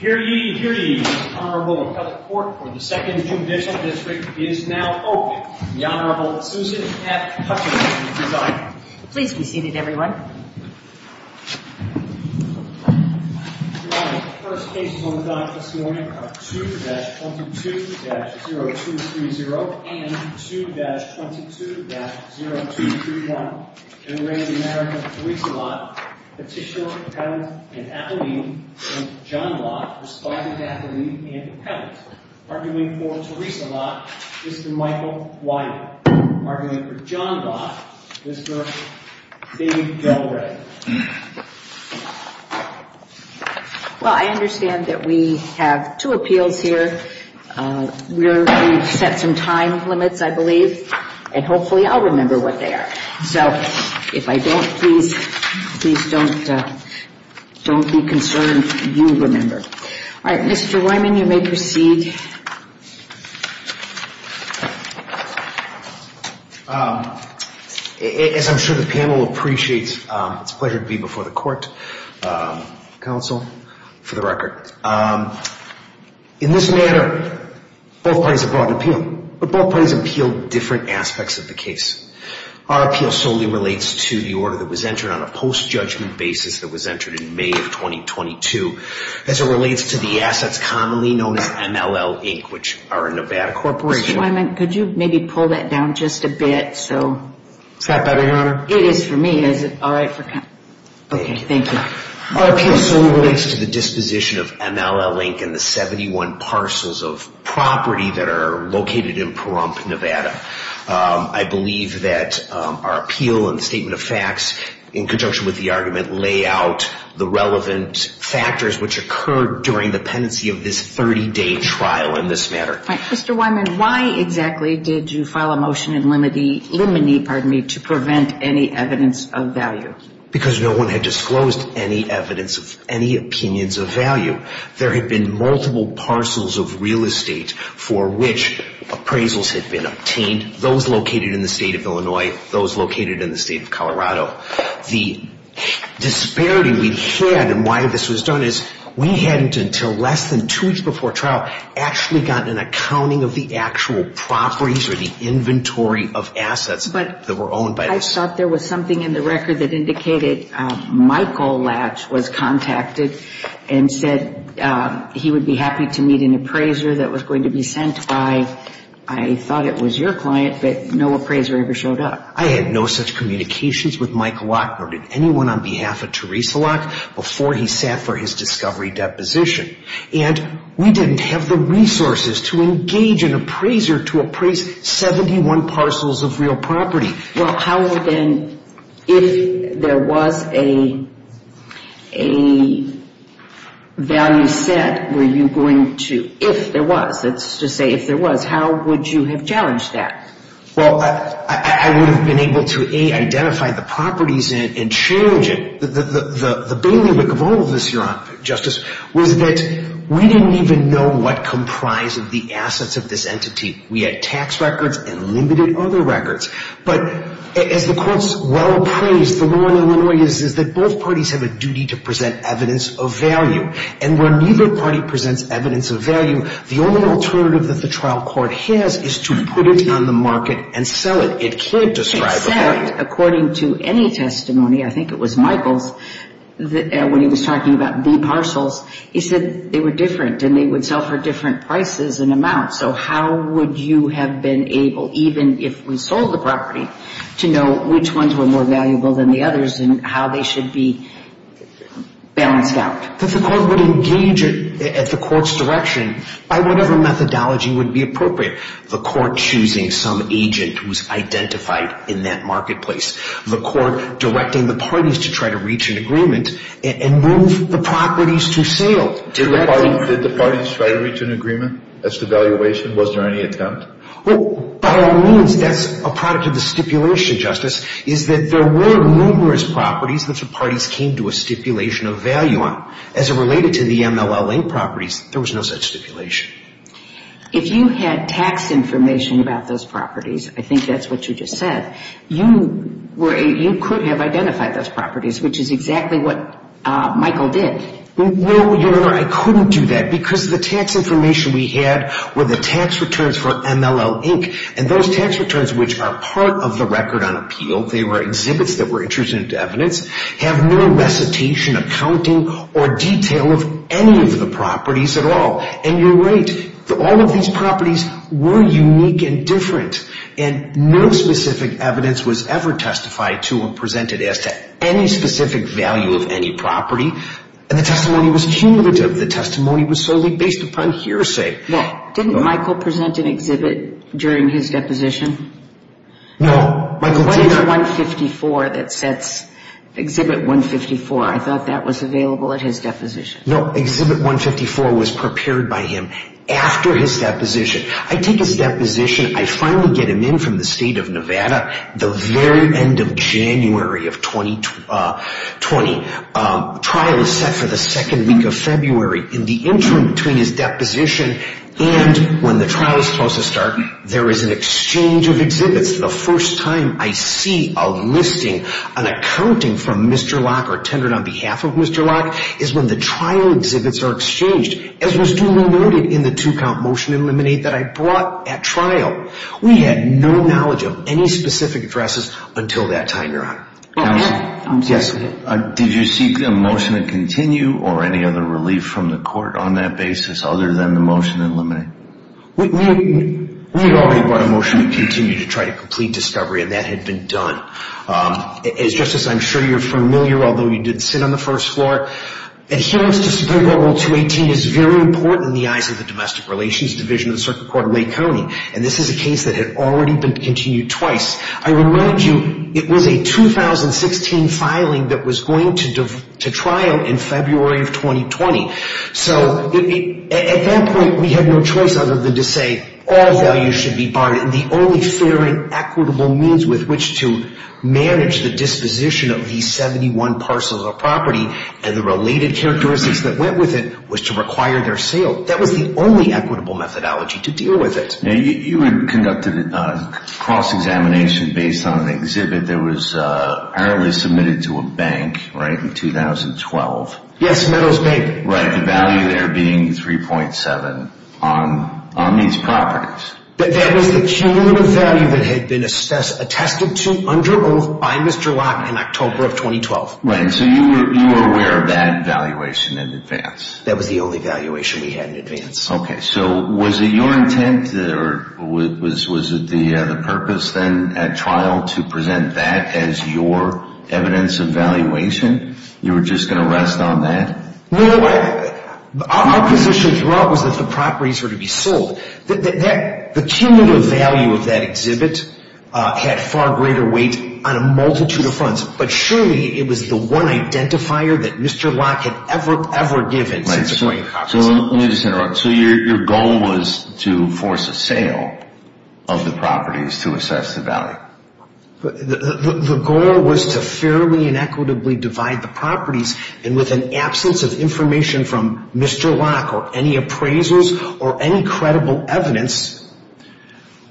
Hear ye, hear ye, the Honorable Appellate Court for the 2nd Judicial District is now open. The Honorable Susan F. Hutchinson is on. Please be seated, everyone. Your Honor, the first cases on the docket this morning are 2-22-0230 and 2-22-0231. In the name of the American Theresa Lach, Petitioner, Appellant, and Appellant, and John Lach, Respondent, Appellant, and Appellant. Arguing for Theresa Lach, Mr. Michael Wiley. Arguing for John Lach, Mr. David Galbraith. Well, I understand that we have two appeals here. We've set some time limits, I believe, and hopefully I'll remember what they are. So if I don't, please don't be concerned. You remember. All right, Mr. Wyman, you may proceed. As I'm sure the panel appreciates, it's a pleasure to be before the court, counsel, for the record. In this matter, both parties have brought an appeal, but both parties appealed different aspects of the case. Our appeal solely relates to the order that was entered on a post-judgment basis that was entered in May of 2022. As it relates to the assets commonly known as MLL Inc., which are a Nevada corporation. Mr. Wyman, could you maybe pull that down just a bit? Is that better, Your Honor? It is for me. Okay, thank you. Our appeal solely relates to the disposition of MLL Inc. and the 71 parcels of property that are located in Pahrump, Nevada. I believe that our appeal and the statement of facts, in conjunction with the argument, lay out the relevant factors which occurred during the pendency of this 30-day trial in this matter. Mr. Wyman, why exactly did you file a motion in limine to prevent any evidence of value? Because no one had disclosed any evidence of any opinions of value. There had been multiple parcels of real estate for which appraisals had been obtained, those located in the state of Illinois, those located in the state of Colorado. The disparity we had and why this was done is we hadn't until less than two weeks before trial actually gotten an accounting of the actual properties or the inventory of assets that were owned by this. I thought there was something in the record that indicated Michael Latch was contacted and said he would be happy to meet an appraiser that was going to be sent by. I thought it was your client, but no appraiser ever showed up. I had no such communications with Michael Latch nor did anyone on behalf of Teresa Latch before he sat for his discovery deposition. And we didn't have the resources to engage an appraiser to appraise 71 parcels of real property. Well, how then, if there was a value set, were you going to, if there was, let's just say if there was, how would you have challenged that? Well, I would have been able to A, identify the properties and charge it. The bailiwick of all of this, Your Honor, Justice, was that we didn't even know what comprised of the assets of this entity. We had tax records and limited other records. But as the Court's well-praised, the law in Illinois is that both parties have a duty to present evidence of value. And when neither party presents evidence of value, the only alternative that the trial court has is to put it on the market and sell it. It can't describe a value. In fact, according to any testimony, I think it was Michael's, when he was talking about B parcels, he said they were different and they would sell for different prices and amounts. So how would you have been able, even if we sold the property, to know which ones were more valuable than the others and how they should be balanced out? But the Court would engage it at the Court's direction by whatever methodology would be appropriate. The Court choosing some agent who's identified in that marketplace. The Court directing the parties to try to reach an agreement and move the properties to sale. Did the parties try to reach an agreement as to valuation? Was there any attempt? Well, by all means, that's a product of the stipulation, Justice, is that there were numerous properties that the parties came to a stipulation of value on. As it related to the MLLA properties, there was no such stipulation. If you had tax information about those properties, I think that's what you just said, you could have identified those properties, which is exactly what Michael did. No, Your Honor, I couldn't do that because the tax information we had were the tax returns for MLLA, and those tax returns, which are part of the record on appeal, they were exhibits that were introduced into evidence, have no recitation, accounting, or detail of any of the properties at all. And you're right, all of these properties were unique and different, and no specific evidence was ever testified to or presented as to any specific value of any property. And the testimony was cumulative. The testimony was solely based upon hearsay. Now, didn't Michael present an exhibit during his deposition? No, Michael did not. What is the 154 that sets exhibit 154? I thought that was available at his deposition. No, exhibit 154 was prepared by him after his deposition. I take his deposition, I finally get him in from the State of Nevada the very end of January of 2020, trial is set for the second week of February. In the interim between his deposition and when the trial is supposed to start, there is an exchange of exhibits. The first time I see a listing, an accounting from Mr. Locke or tendered on behalf of Mr. Locke, is when the trial exhibits are exchanged, as was duly noted in the two-count motion in Liminate that I brought at trial. We had no knowledge of any specific addresses until that time, Your Honor. Counsel, did you seek a motion to continue or any other relief from the court on that basis, other than the motion in Liminate? We had already brought a motion to continue to try to complete discovery, and that had been done. As, Justice, I'm sure you're familiar, although you did sit on the first floor, adherence to Supreme Court Rule 218 is very important in the eyes of the Domestic Relations Division of the Circuit Court of Lake County, and this is a case that had already been continued twice. I remind you, it was a 2016 filing that was going to trial in February of 2020. So at that point, we had no choice other than to say all values should be barred, and the only fair and equitable means with which to manage the disposition of these 71 parcels of property and the related characteristics that went with it was to require their sale. That was the only equitable methodology to deal with it. You had conducted a cross-examination based on an exhibit that was apparently submitted to a bank in 2012. Yes, Meadows Bank. Right, the value there being 3.7 on these properties. That was the cumulative value that had been attested to under oath by Mr. Locke in October of 2012. Right, so you were aware of that valuation in advance. That was the only valuation we had in advance. Okay, so was it your intent or was it the purpose then at trial to present that as your evidence of valuation? You were just going to rest on that? No, our position throughout was that the properties were to be sold. The cumulative value of that exhibit had far greater weight on a multitude of fronts, but surely it was the one identifier that Mr. Locke had ever, ever given since the Court of Compensation. So let me just interrupt. So your goal was to force a sale of the properties to assess the value? The goal was to fairly and equitably divide the properties, and with an absence of information from Mr. Locke or any appraisals or any credible evidence,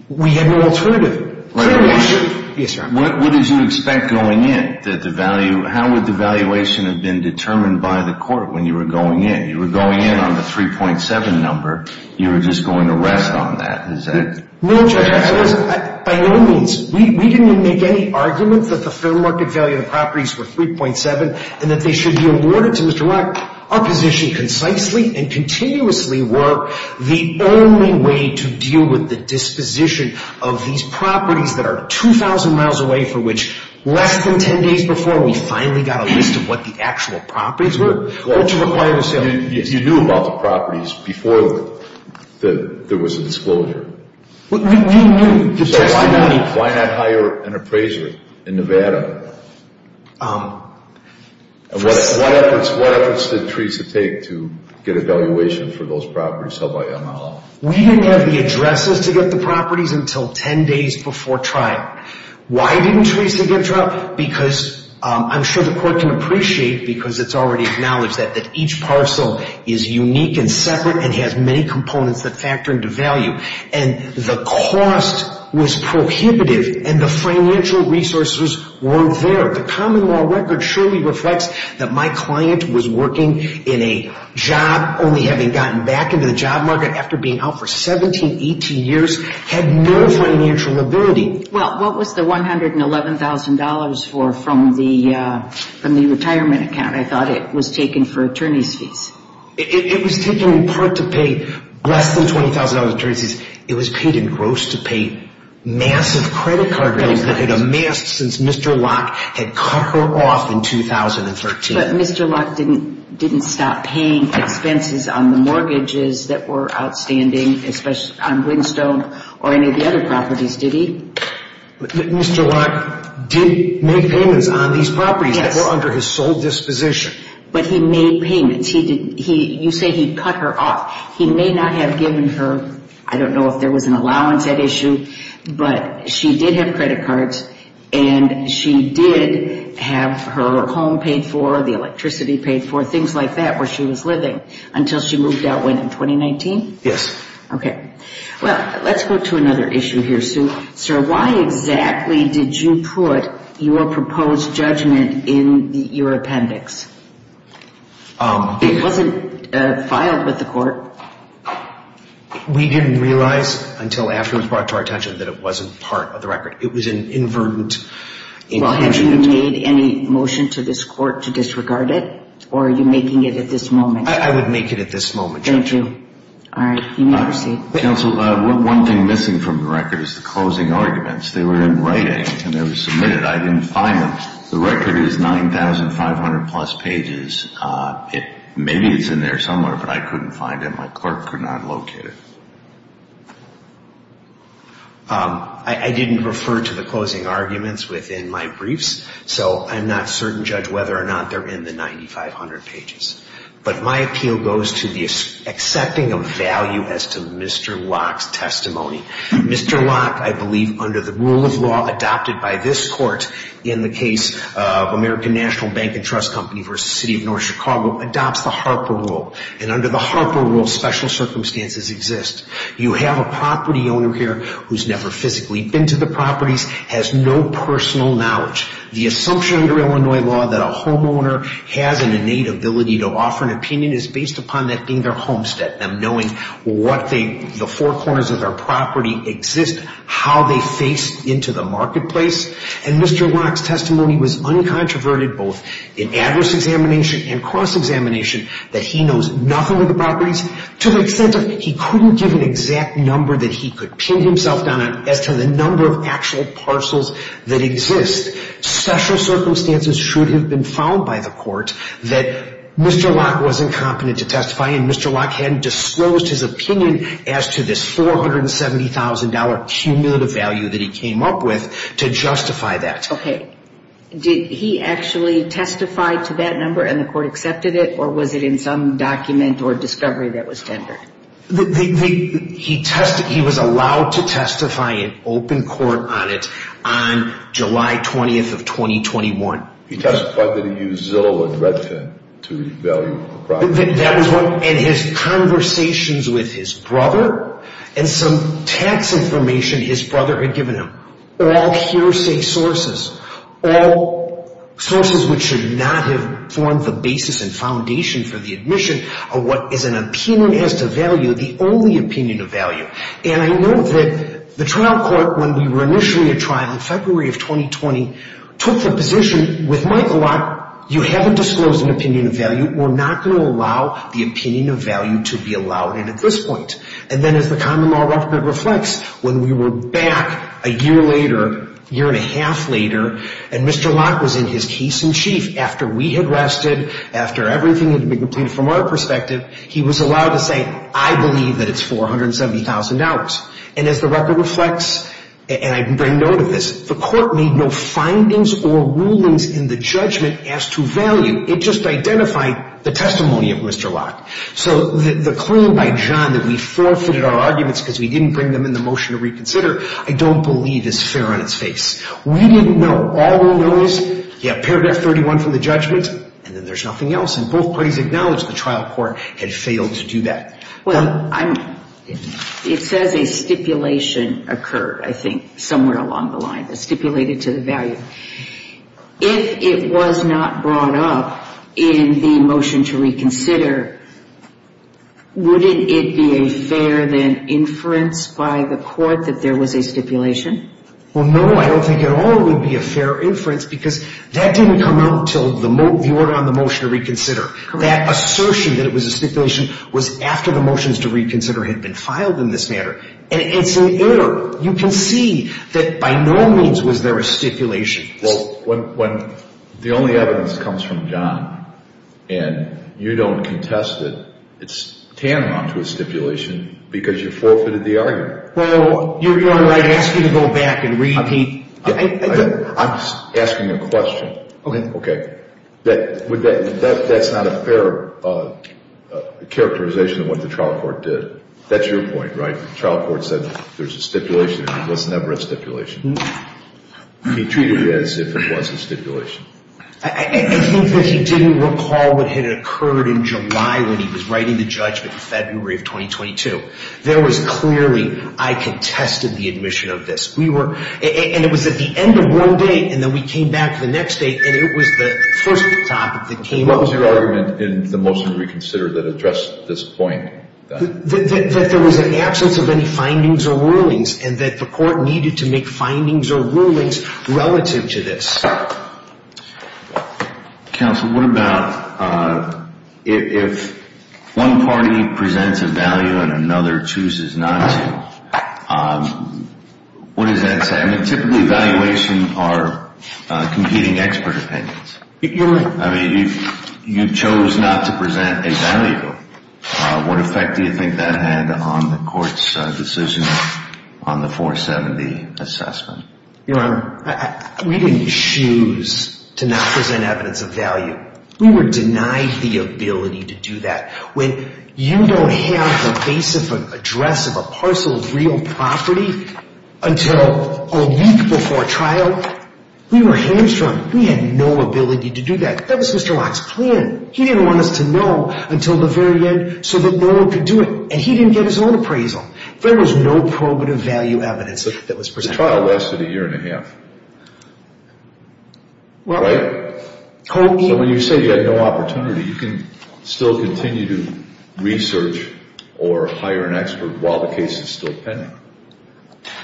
we had no alternative. What did you expect going in? How would the valuation have been determined by the Court when you were going in? You were going in on the 3.7 number. You were just going to rest on that? No, Judge, by no means. We didn't make any arguments that the fair market value of the properties were 3.7 and that they should be awarded to Mr. Locke. Our position concisely and continuously were the only way to deal with the disposition of these properties that are 2,000 miles away for which less than 10 days before we finally got a list of what the actual properties were. You knew about the properties before there was a disclosure? We knew. So why not hire an appraiser in Nevada? What efforts did Teresa take to get a valuation for those properties held by Yamaha? We didn't have the addresses to get the properties until 10 days before trial. Why didn't Teresa get trial? I'm sure the Court can appreciate because it's already acknowledged that each parcel is unique and separate and has many components that factor into value. And the cost was prohibitive and the financial resources weren't there. The common law record surely reflects that my client was working in a job, only having gotten back into the job market after being out for 17, 18 years, had no financial ability. Well, what was the $111,000 from the retirement account? I thought it was taken for attorneys' fees. It was taken in part to pay less than $20,000 for attorneys' fees. It was paid in gross-to-pay massive credit card bills that had amassed since Mr. Locke had cut her off in 2013. But Mr. Locke didn't stop paying expenses on the mortgages that were outstanding, especially on Whinstone or any of the other properties, did he? Mr. Locke did make payments on these properties that were under his sole disposition. But he made payments. You say he cut her off. He may not have given her, I don't know if there was an allowance at issue, but she did have credit cards and she did have her home paid for, the electricity paid for, things like that where she was living until she moved out in 2019? Yes. Okay. Well, let's go to another issue here, Sue. Sir, why exactly did you put your proposed judgment in your appendix? It wasn't filed with the court. We didn't realize until after it was brought to our attention that it wasn't part of the record. It was an inverted inclusion. Well, have you made any motion to this court to disregard it, or are you making it at this moment? I would make it at this moment, Judge. Thank you. All right. You may proceed. Counsel, one thing missing from the record is the closing arguments. They were in writing and they were submitted. I didn't find them. The record is 9,500-plus pages. Maybe it's in there somewhere, but I couldn't find it. My clerk could not locate it. I didn't refer to the closing arguments within my briefs, so I'm not certain, Judge, whether or not they're in the 9,500 pages. But my appeal goes to the accepting of value as to Mr. Locke's testimony. Mr. Locke, I believe, under the rule of law adopted by this court in the case of American National Bank and Trust Company v. City of North Chicago, adopts the Harper rule. And under the Harper rule, special circumstances exist. You have a property owner here who's never physically been to the properties, has no personal knowledge. The assumption under Illinois law that a homeowner has an innate ability to offer an opinion is based upon that being their homestead, them knowing the four corners of their property exist, how they face into the marketplace. And Mr. Locke's testimony was uncontroverted both in address examination and cross-examination, that he knows nothing of the properties to the extent of he couldn't give an exact number that he could pin himself down on as to the number of actual parcels that exist. Special circumstances should have been found by the court that Mr. Locke wasn't competent to testify and Mr. Locke hadn't disclosed his opinion as to this $470,000 cumulative value that he came up with to justify that. Okay. Did he actually testify to that number and the court accepted it or was it in some document or discovery that was tendered? He was allowed to testify in open court on it on July 20th of 2021. He testified that he used Zillow and Redfin to revalue the property. And his conversations with his brother and some tax information his brother had given him were all hearsay sources, all sources which should not have formed the basis and foundation for the admission of what is an opinion as to value, the only opinion of value. And I know that the trial court, when we were initially at trial in February of 2020, took the position with Michael Locke, you haven't disclosed an opinion of value, we're not going to allow the opinion of value to be allowed in at this point. And then as the common law record reflects, when we were back a year later, a year and a half later, and Mr. Locke was in his case in chief after we had rested, after everything had been completed from our perspective, he was allowed to say, I believe that it's $470,000. And as the record reflects, and I bring note of this, the court made no findings or rulings in the judgment as to value. It just identified the testimony of Mr. Locke. So the claim by John that we forfeited our arguments because we didn't bring them in the motion to reconsider, I don't believe is fair on its face. We didn't know. All we know is, yeah, paragraph 31 from the judgment, and then there's nothing else. And both parties acknowledged the trial court had failed to do that. Well, it says a stipulation occurred, I think, somewhere along the line that stipulated to the value. If it was not brought up in the motion to reconsider, wouldn't it be a fair then inference by the court that there was a stipulation? Well, no, I don't think at all it would be a fair inference because that didn't come out until the order on the motion to reconsider. That assertion that it was a stipulation was after the motions to reconsider had been filed in this manner. And it's an error. You can see that by no means was there a stipulation. Well, when the only evidence comes from John and you don't contest it, it's tantamount to a stipulation because you forfeited the argument. Well, you're right. I ask you to go back and repeat. I'm asking a question. Okay. Okay. That's not a fair characterization of what the trial court did. That's your point, right? The trial court said there's a stipulation. It was never a stipulation. He treated it as if it was a stipulation. I think that he didn't recall what had occurred in July when he was writing the judgment in February of 2022. There was clearly, I contested the admission of this. And it was at the end of one day, and then we came back the next day, and it was the first topic that came up. What was your argument in the motion to reconsider that addressed this point? That there was an absence of any findings or rulings and that the court needed to make findings or rulings relative to this. Counsel, what about if one party presents a value and another chooses not to, what does that say? I mean, typically, evaluation are competing expert opinions. You're right. I mean, you chose not to present a value. What effect do you think that had on the court's decision on the 470 assessment? Your Honor, we didn't choose to not present evidence of value. We were denied the ability to do that. When you don't have the base of an address of a parcel of real property until a week before trial, we were hamstrung. We had no ability to do that. That was Mr. Locke's plan. He didn't want us to know until the very end so that no one could do it, and he didn't get his own appraisal. There was no probative value evidence that was presented. The trial lasted a year and a half, right? So when you say you had no opportunity, you can still continue to research or hire an expert while the case is still pending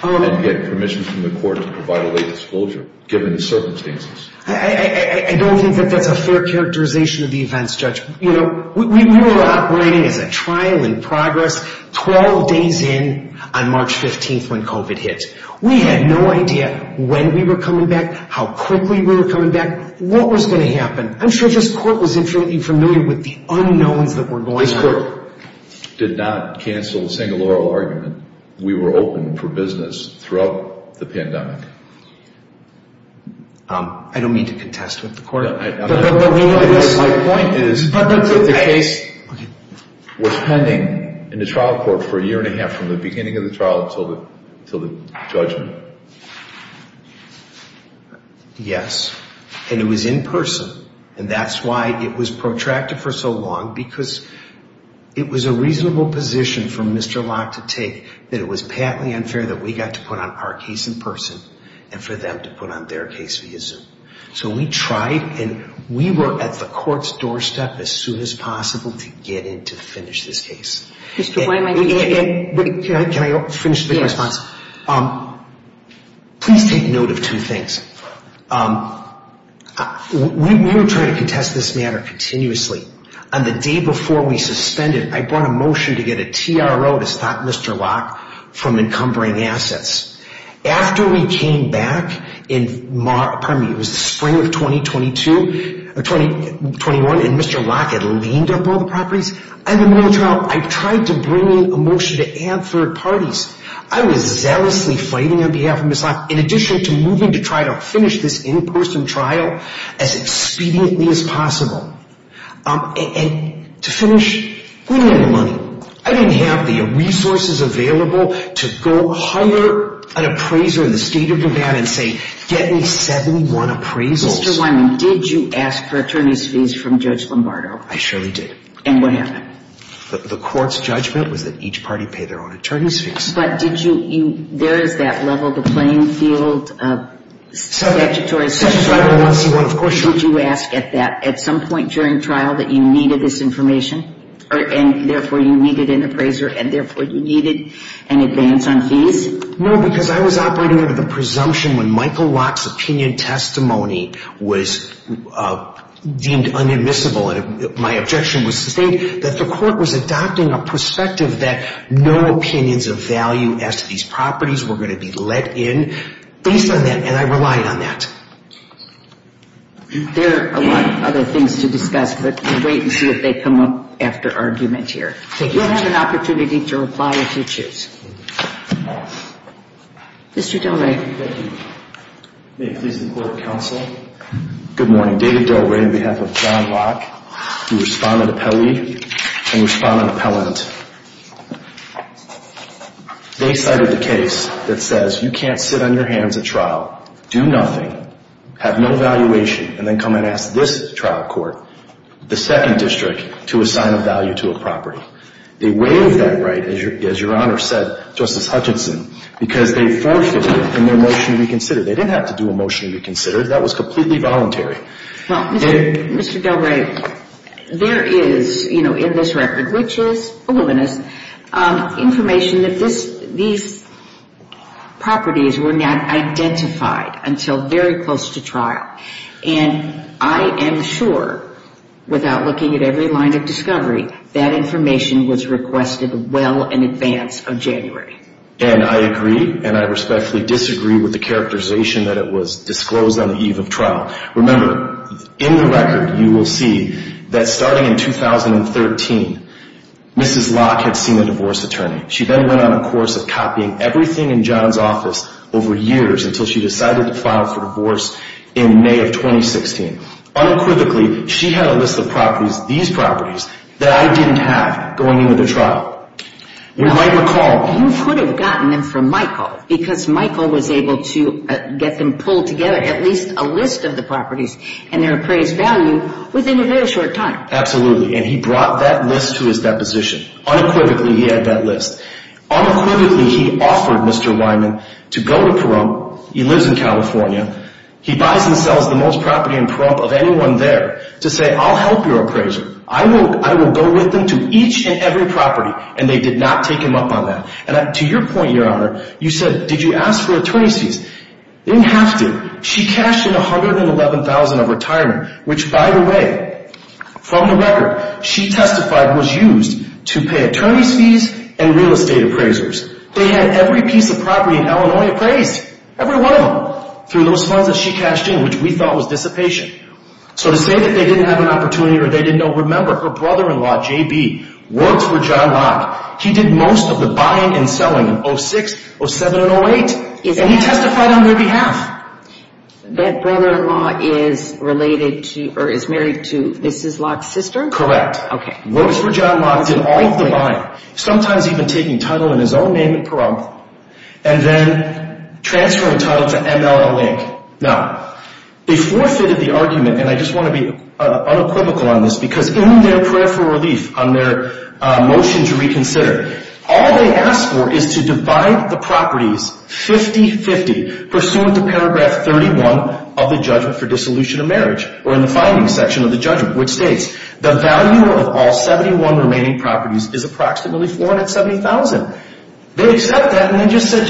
and get permission from the court to provide a late disclosure given the circumstances. I don't think that that's a fair characterization of the events, Judge. You know, we were operating as a trial in progress 12 days in on March 15th when COVID hit. We had no idea when we were coming back, how quickly we were coming back, what was going to happen. I'm sure this court was infinitely familiar with the unknowns that were going on. This court did not cancel a single oral argument. We were open for business throughout the pandemic. I don't mean to contest with the court. My point is that the case was pending in the trial court for a year and a half from the beginning of the trial until the judgment. Yes, and it was in person, and that's why it was protracted for so long because it was a reasonable position for Mr. and for them to put on their case via Zoom. So we tried, and we were at the court's doorstep as soon as possible to get in to finish this case. Mr. Please take note of two things. We were trying to contest this matter continuously. On the day before we suspended, I brought a motion to get a TRO to stop Mr. Locke from encumbering assets. After we came back in spring of 2021 and Mr. Locke had leaned up all the properties, I tried to bring in a motion to add third parties. I was zealously fighting on behalf of Mr. Locke in addition to moving to try to finish this in-person trial as expediently as possible. And to finish, we didn't have the money. I didn't have the resources available to go hire an appraiser in the state of Nevada and say, get me 71 appraisals. Mr. Did you ask for attorney's fees from Judge Lombardo? I surely did. And what happened? The court's judgment was that each party pay their own attorney's fees. But did you, there is that level, the playing field of statutory. Did you ask at that at some point during trial that you needed this information? And therefore you needed an appraiser and therefore you needed an advance on fees? No, because I was operating under the presumption when Michael Locke's opinion testimony was deemed unadmissible. And my objection was that the court was adopting a perspective that no opinions of value as to these properties were going to be let in. Based on that, and I relied on that. There are a lot of other things to discuss, but we'll wait and see if they come up after argument here. You'll have an opportunity to reply if you choose. Mr. Del Rey. Thank you. May it please the Court of Counsel. Good morning. David Del Rey on behalf of John Locke, who responded to Pelley and responded to Pellent. They cited the case that says you can't sit on your hands at trial, do nothing, have no evaluation, and then come and ask this trial court, the second district, to assign a value to a property. They waived that right, as your Honor said, Justice Hutchinson, because they forfeited in their motion to be considered. They didn't have to do a motion to be considered. That was completely voluntary. Well, Mr. Del Rey, there is, you know, in this record, which is illuminous, information that these properties were not identified until very close to trial. And I am sure, without looking at every line of discovery, that information was requested well in advance of January. And I agree, and I respectfully disagree with the characterization that it was disclosed on the eve of trial. Remember, in the record, you will see that starting in 2013, Mrs. Locke had seen a divorce attorney. She then went on a course of copying everything in John's office over years until she decided to file for divorce in May of 2016. Unequivocally, she had a list of properties, these properties, that I didn't have going into the trial. You might recall. You could have gotten them from Michael, because Michael was able to get them pulled together, at least a list of the properties and their appraised value, within a very short time. Absolutely. And he brought that list to his deposition. Unequivocally, he had that list. Unequivocally, he offered Mr. Wyman to go to Pahrump. He lives in California. He buys and sells the most property in Pahrump of anyone there to say, I'll help your appraiser. I will go with them to each and every property. And they did not take him up on that. And to your point, Your Honor, you said, did you ask for attorney's fees? They didn't have to. She cashed in $111,000 of retirement, which, by the way, from the record, she testified was used to pay attorney's fees and real estate appraisers. They had every piece of property in Illinois appraised, every one of them, through those funds that she cashed in, which we thought was dissipation. So to say that they didn't have an opportunity or they didn't know, remember, her brother-in-law, J.B., works for John Locke. He did most of the buying and selling in 06, 07, and 08. And he testified on their behalf. That brother-in-law is related to or is married to Mrs. Locke's sister? Correct. Works for John Locke, did all of the buying, sometimes even taking title in his own name at Pahrump, and then transferring title to MLL Inc. Now, they forfeited the argument, and I just want to be unequivocal on this because in their prayer for relief, on their motion to reconsider, all they asked for is to divide the properties 50-50 pursuant to paragraph 31 of the judgment for dissolution of marriage or in the finding section of the judgment, which states the value of all 71 remaining properties is approximately $470,000. They accept that, and they just said,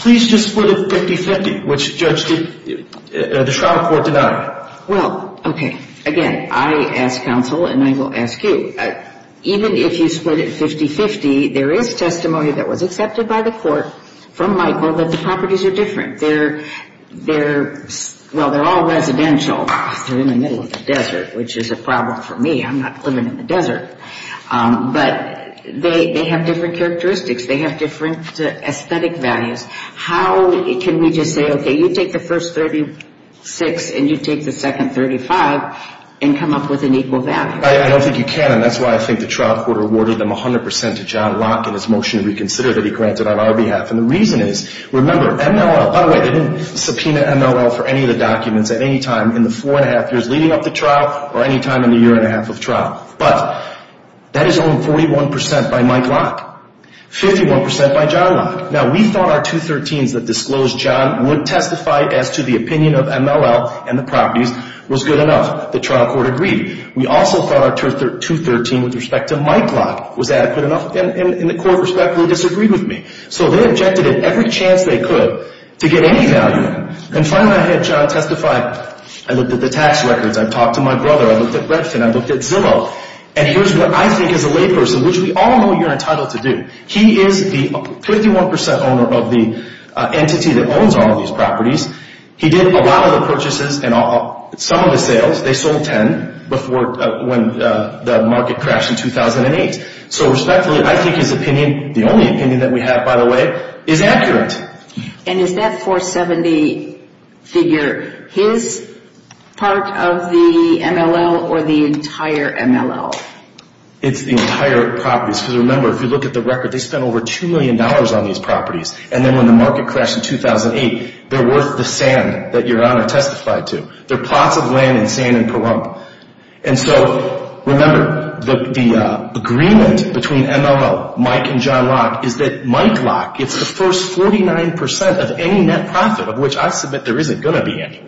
please just split it 50-50, which the Shroud Court denied. Well, okay. Again, I, as counsel, and I will ask you, even if you split it 50-50, there is testimony that was accepted by the court from Michael that the properties are different. They're all residential. They're in the middle of the desert, which is a problem for me. I'm not living in the desert. But they have different characteristics. They have different aesthetic values. How can we just say, okay, you take the first 36 and you take the second 35 and come up with an equal value? I don't think you can, and that's why I think the Shroud Court awarded them 100 percent to John Locke in his motion to reconsider that he granted on our behalf, and the reason is, remember, MLL, by the way, they didn't subpoena MLL for any of the documents at any time in the four-and-a-half years leading up to trial or any time in the year-and-a-half of trial. But that is only 41 percent by Mike Locke, 51 percent by John Locke. Now, we thought our 213s that disclosed John would testify as to the opinion of MLL and the properties was good enough. The trial court agreed. We also thought our 213 with respect to Mike Locke was adequate enough, and the court respectfully disagreed with me. So they objected at every chance they could to get any value. And finally, I had John testify. I looked at the tax records. I talked to my brother. I looked at Redfin. I looked at Zillow. And here's what I think as a layperson, which we all know you're entitled to do, he is the 51 percent owner of the entity that owns all of these properties. He did a lot of the purchases and some of the sales. They sold 10 before when the market crashed in 2008. So respectfully, I think his opinion, the only opinion that we have, by the way, is accurate. And is that 470 figure his part of the MLL or the entire MLL? It's the entire properties. Because, remember, if you look at the record, they spent over $2 million on these properties. And then when the market crashed in 2008, they're worth the sand that Your Honor testified to. They're plots of land in sand in Pahrump. And so, remember, the agreement between MLL, Mike and John Locke, is that Mike Locke, it's the first 49 percent of any net profit, of which I submit there isn't going to be any.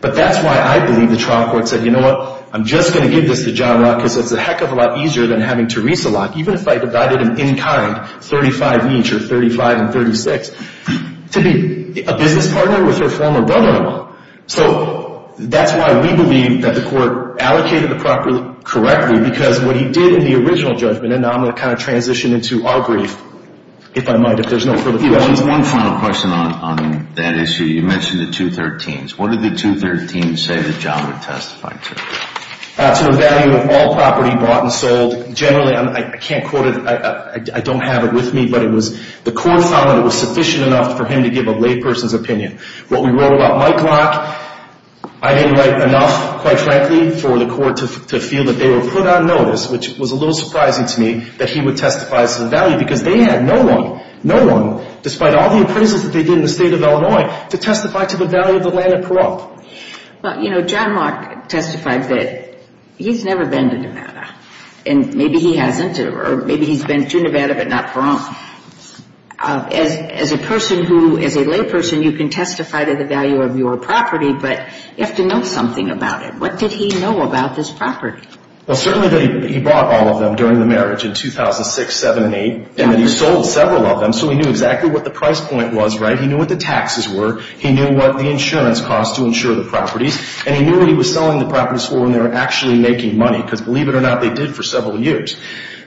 But that's why I believe the trial court said, you know what, I'm just going to give this to John Locke because it's a heck of a lot easier than having Teresa Locke, even if I divided him in kind, 35 each or 35 and 36, to be a business partner with her former brother-in-law. So that's why we believe that the court allocated the property correctly because what he did in the original judgment, and now I'm going to kind of transition into our brief, if I might, if there's no further questions. One final question on that issue. You mentioned the 213s. What did the 213s say that John would testify to? To the value of all property bought and sold. Generally, I can't quote it, I don't have it with me, but the court found that it was sufficient enough for him to give a layperson's opinion. What we wrote about Mike Locke, I didn't write enough, quite frankly, for the court to feel that they were put on notice, which was a little surprising to me, that he would testify to the value because they had no one, no one, despite all the appraisals that they did in the state of Illinois, to testify to the value of the land at Pahrump. Well, you know, John Locke testified that he's never been to Nevada, and maybe he hasn't or maybe he's been to Nevada but not Pahrump. As a person who, as a layperson, you can testify to the value of your property, but you have to know something about it. What did he know about this property? Well, certainly he bought all of them during the marriage in 2006, 2007, 2008, and then he sold several of them, so he knew exactly what the price point was, right? He knew what the taxes were. He knew what the insurance cost to insure the properties, and he knew what he was selling the properties for when they were actually making money because, believe it or not, they did for several years.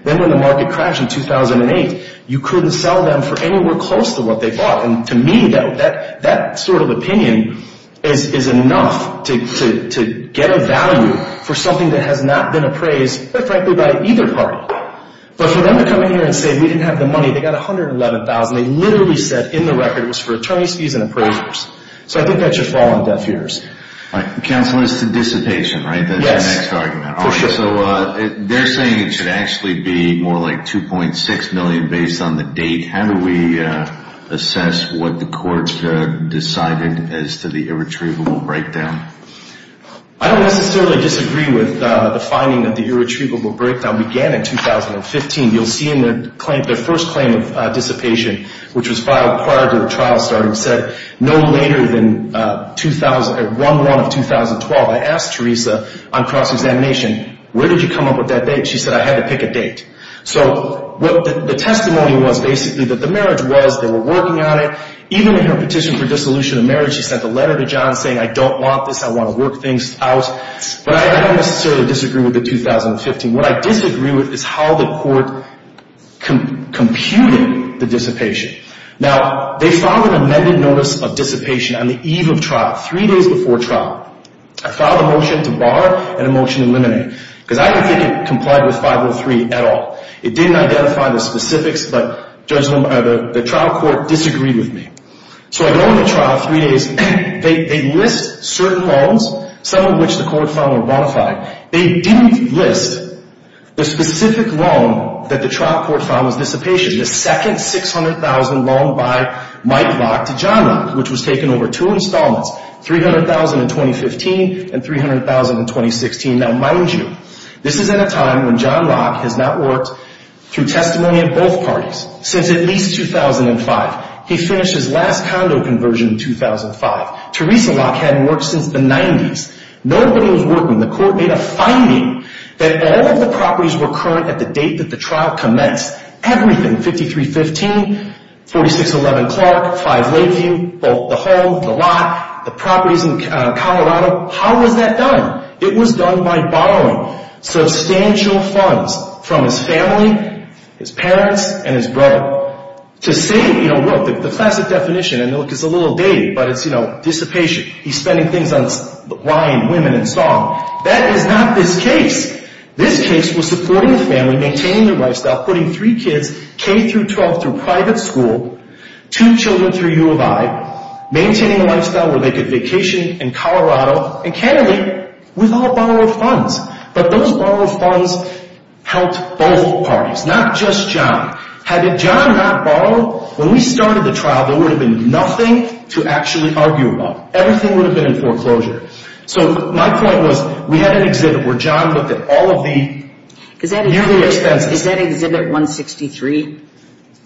Then when the market crashed in 2008, you couldn't sell them for anywhere close to what they bought, and to me, that sort of opinion is enough to get a value for something that has not been appraised, frankly, by either party. But for them to come in here and say we didn't have the money, they got $111,000. They literally said in the record it was for attorney's fees and appraisers. So I think that should fall on deaf ears. Counsel, it's the dissipation, right? That's your next argument. For sure. So they're saying it should actually be more like $2.6 million based on the date. How do we assess what the court decided as to the irretrievable breakdown? I don't necessarily disagree with the finding that the irretrievable breakdown began in 2015. You'll see in their first claim of dissipation, which was filed prior to the trial started, said no later than 1-1 of 2012. I asked Teresa on cross-examination, where did you come up with that date? She said I had to pick a date. So the testimony was basically that the marriage was, they were working on it. Even in her petition for dissolution of marriage, she sent a letter to John saying I don't want this, I want to work things out. But I don't necessarily disagree with the 2015. What I disagree with is how the court computed the dissipation. Now, they filed an amended notice of dissipation on the eve of trial, three days before trial. I filed a motion to bar and a motion to eliminate. Because I don't think it complied with 503 at all. It didn't identify the specifics, but the trial court disagreed with me. So I go into trial three days. They list certain loans, some of which the court found were bonafide. They didn't list the specific loan that the trial court found was dissipation, the second $600,000 loan by Mike Locke to John Locke, which was taken over two installments, $300,000 in 2015 and $300,000 in 2016. Now, mind you, this is at a time when John Locke has not worked through testimony at both parties since at least 2005. He finished his last condo conversion in 2005. Teresa Locke hadn't worked since the 90s. Nobody was working. The court made a finding that all of the properties were current at the date that the trial commenced. Everything, 5315, 4611 Clark, 5 Lakeview, both the home, the lot, the properties in Colorado. How was that done? It was done by borrowing substantial funds from his family, his parents, and his brother. To say, you know, look, the classic definition, and look, it's a little dated, but it's, you know, dissipation. He's spending things on wine, women, and song. That is not this case. This case was supporting the family, maintaining their lifestyle, putting three kids, K-12 through private school, two children through U of I, maintaining a lifestyle where they could vacation in Colorado, and candidly, with all borrowed funds. But those borrowed funds helped both parties, not just John. Had John not borrowed, when we started the trial, there would have been nothing to actually argue about. Everything would have been in foreclosure. So my point was, we had an exhibit where John looked at all of the yearly expenses. Is that exhibit 163?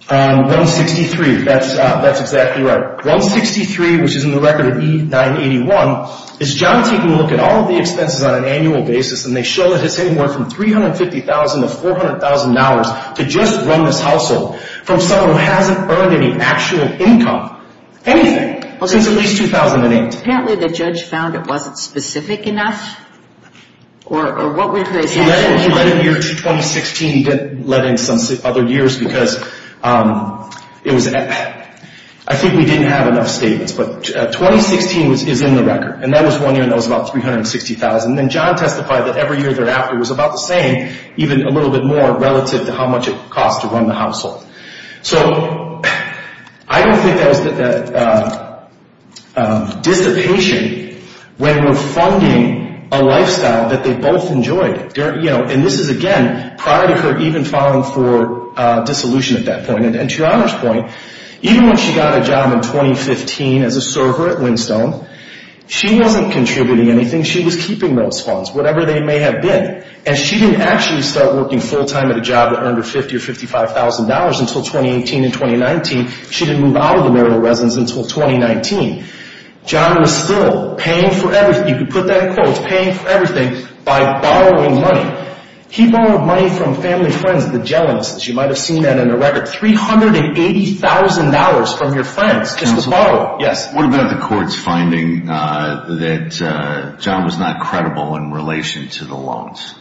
163, that's exactly right. 163, which is in the record of E981, is John taking a look at all of the expenses on an annual basis, and they show that it's anywhere from $350,000 to $400,000 to just run this household, from someone who hasn't earned any actual income, anything, since at least 2008. Apparently the judge found it wasn't specific enough, or what would they say? He let in the year 2016. He didn't let in some other years because it was, I think we didn't have enough statements. But 2016 is in the record, and that was one year, and that was about $360,000. And then John testified that every year thereafter it was about the same, even a little bit more relative to how much it cost to run the household. So I don't think that was dissipation when we're funding a lifestyle that they both enjoyed. And this is, again, prior to her even filing for dissolution at that point. And to your Honor's point, even when she got a job in 2015 as a server at Windstone, she wasn't contributing anything. She was keeping those funds, whatever they may have been. And she didn't actually start working full-time at a job that earned her $50,000 or $55,000 until 2018 and 2019. She didn't move out of the marital residence until 2019. John was still paying for everything. You could put that in quotes, paying for everything by borrowing money. He borrowed money from family and friends, the jealous. You might have seen that in the record. $380,000 from your friends just to borrow. What about the court's finding that John was not credible in relation to the loans?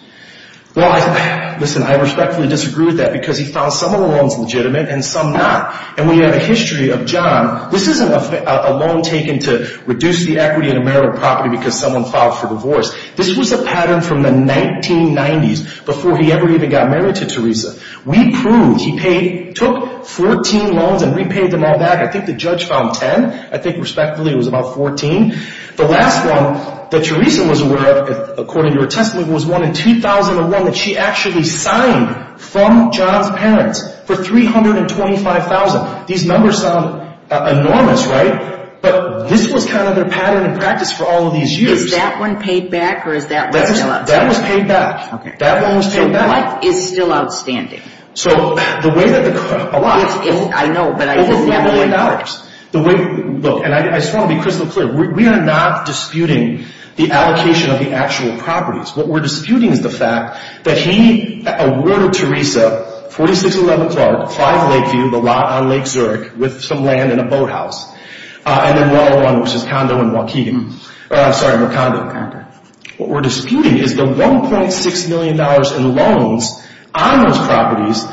Well, listen, I respectfully disagree with that because he found some of the loans legitimate and some not. And we have a history of John. This isn't a loan taken to reduce the equity in a marital property because someone filed for divorce. This was a pattern from the 1990s before he ever even got married to Teresa. We proved he took 14 loans and repaid them all back. I think the judge found 10. I think respectfully it was about 14. The last one that Teresa was aware of, according to her testimony, was one in 2001 that she actually signed from John's parents for $325,000. These numbers sound enormous, right? But this was kind of their pattern and practice for all of these years. Is that one paid back or is that one still outstanding? That one was paid back. That one was paid back. What is still outstanding? So the way that the – a lot. I know, but I just – $1.5 million. The way – look, and I just want to be crystal clear. We are not disputing the allocation of the actual properties. What we're disputing is the fact that he awarded Teresa 4611 Clark, 5 Lakeview, the lot on Lake Zurich, with some land and a boathouse. And then the other one was his condo in Waukegan. Sorry, her condo. Her condo. What we're disputing is the $1.6 million in loans on those properties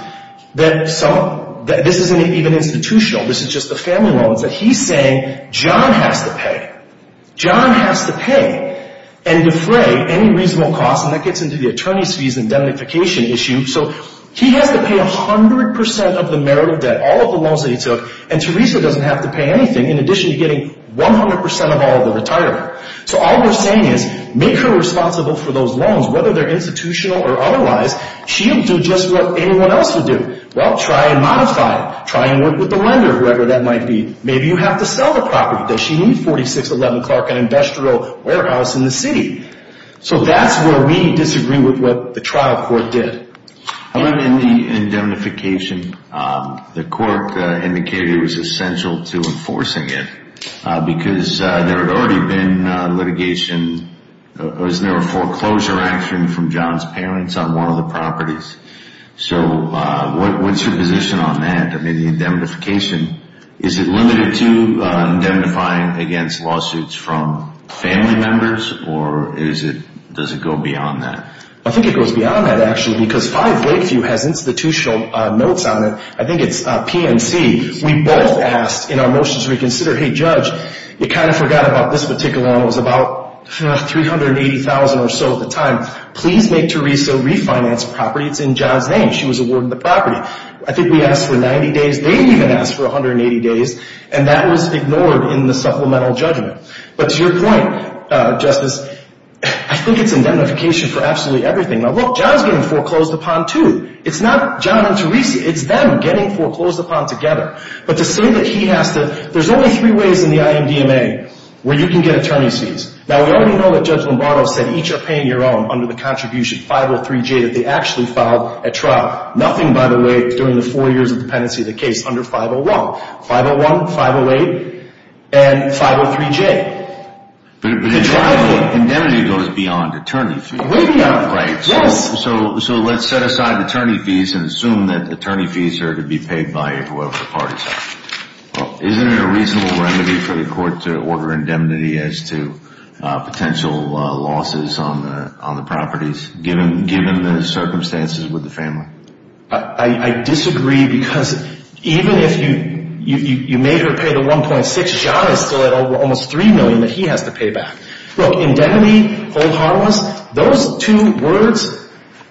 that some – this isn't even institutional. This is just the family loans that he's saying John has to pay. John has to pay and defray any reasonable cost, and that gets into the attorney's fees and indemnification issue. So he has to pay 100% of the merit of debt, all of the loans that he took, and Teresa doesn't have to pay anything in addition to getting 100% of all of the retirement. So all we're saying is make her responsible for those loans, whether they're institutional or otherwise. She'll do just what anyone else would do. Well, try and modify it. Try and work with the lender, whoever that might be. Maybe you have to sell the property. Does she need 4611 Clark, an industrial warehouse in the city? So that's where we disagree with what the trial court did. In the indemnification, the court indicated it was essential to enforcing it because there had already been litigation. There was no foreclosure action from John's parents on one of the properties. So what's your position on that? I mean, the indemnification, is it limited to indemnifying against lawsuits from family members, or is it – does it go beyond that? I think it goes beyond that, actually, because 5 Lakeview has institutional notes on it. I think it's PNC. We both asked in our motion to reconsider, hey, Judge, you kind of forgot about this particular loan. It was about $380,000 or so at the time. Please make Teresa refinance property. It's in John's name. She was awarded the property. I think we asked for 90 days. They even asked for 180 days, and that was ignored in the supplemental judgment. But to your point, Justice, I think it's indemnification for absolutely everything. Now, look, John's getting foreclosed upon, too. It's not John and Teresa. It's them getting foreclosed upon together. But to say that he has to – there's only three ways in the IMDMA where you can get attorney's fees. Now, we already know that Judge Lombardo said each are paying your own under the contribution 503J that they actually filed at trial. Nothing, by the way, during the four years of dependency of the case under 501. 501, 508, and 503J. But indemnity goes beyond attorney fees, right? Yes. So let's set aside attorney fees and assume that attorney fees are to be paid by whoever the parties are. Isn't it a reasonable remedy for the court to order indemnity as to potential losses on the properties, given the circumstances with the family? I disagree because even if you made her pay the 1.6, John is still at almost $3 million that he has to pay back. Look, indemnity, hold honorables, those two words,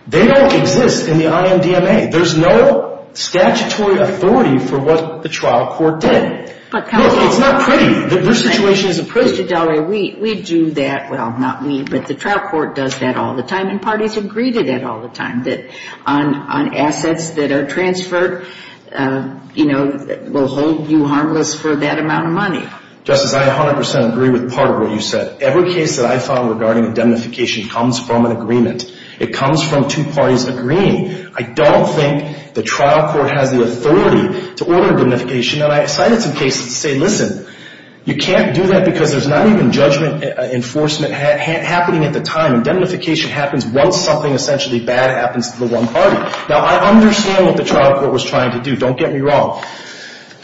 they don't exist in the IMDMA. There's no statutory authority for what the trial court did. It's not pretty. Their situation isn't pretty. We do that – well, not we, but the trial court does that all the time, and parties agree to that all the time. That on assets that are transferred, you know, we'll hold you harmless for that amount of money. Justice, I 100% agree with part of what you said. Every case that I file regarding indemnification comes from an agreement. It comes from two parties agreeing. I don't think the trial court has the authority to order indemnification. And I cited some cases that say, listen, you can't do that because there's not even judgment enforcement happening at the time. Indemnification happens once something essentially bad happens to the one party. Now, I understand what the trial court was trying to do. Don't get me wrong.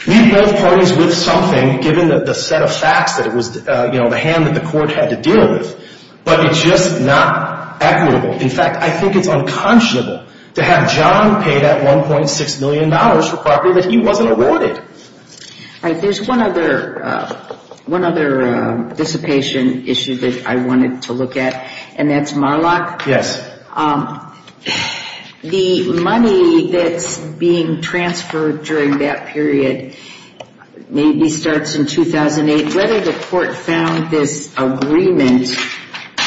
Meet both parties with something, given the set of facts that it was, you know, the hand that the court had to deal with. But it's just not equitable. In fact, I think it's unconscionable to have John pay that $1.6 million for property that he wasn't awarded. There's one other dissipation issue that I wanted to look at, and that's Marlock. Yes. The money that's being transferred during that period maybe starts in 2008. Whether the court found this agreement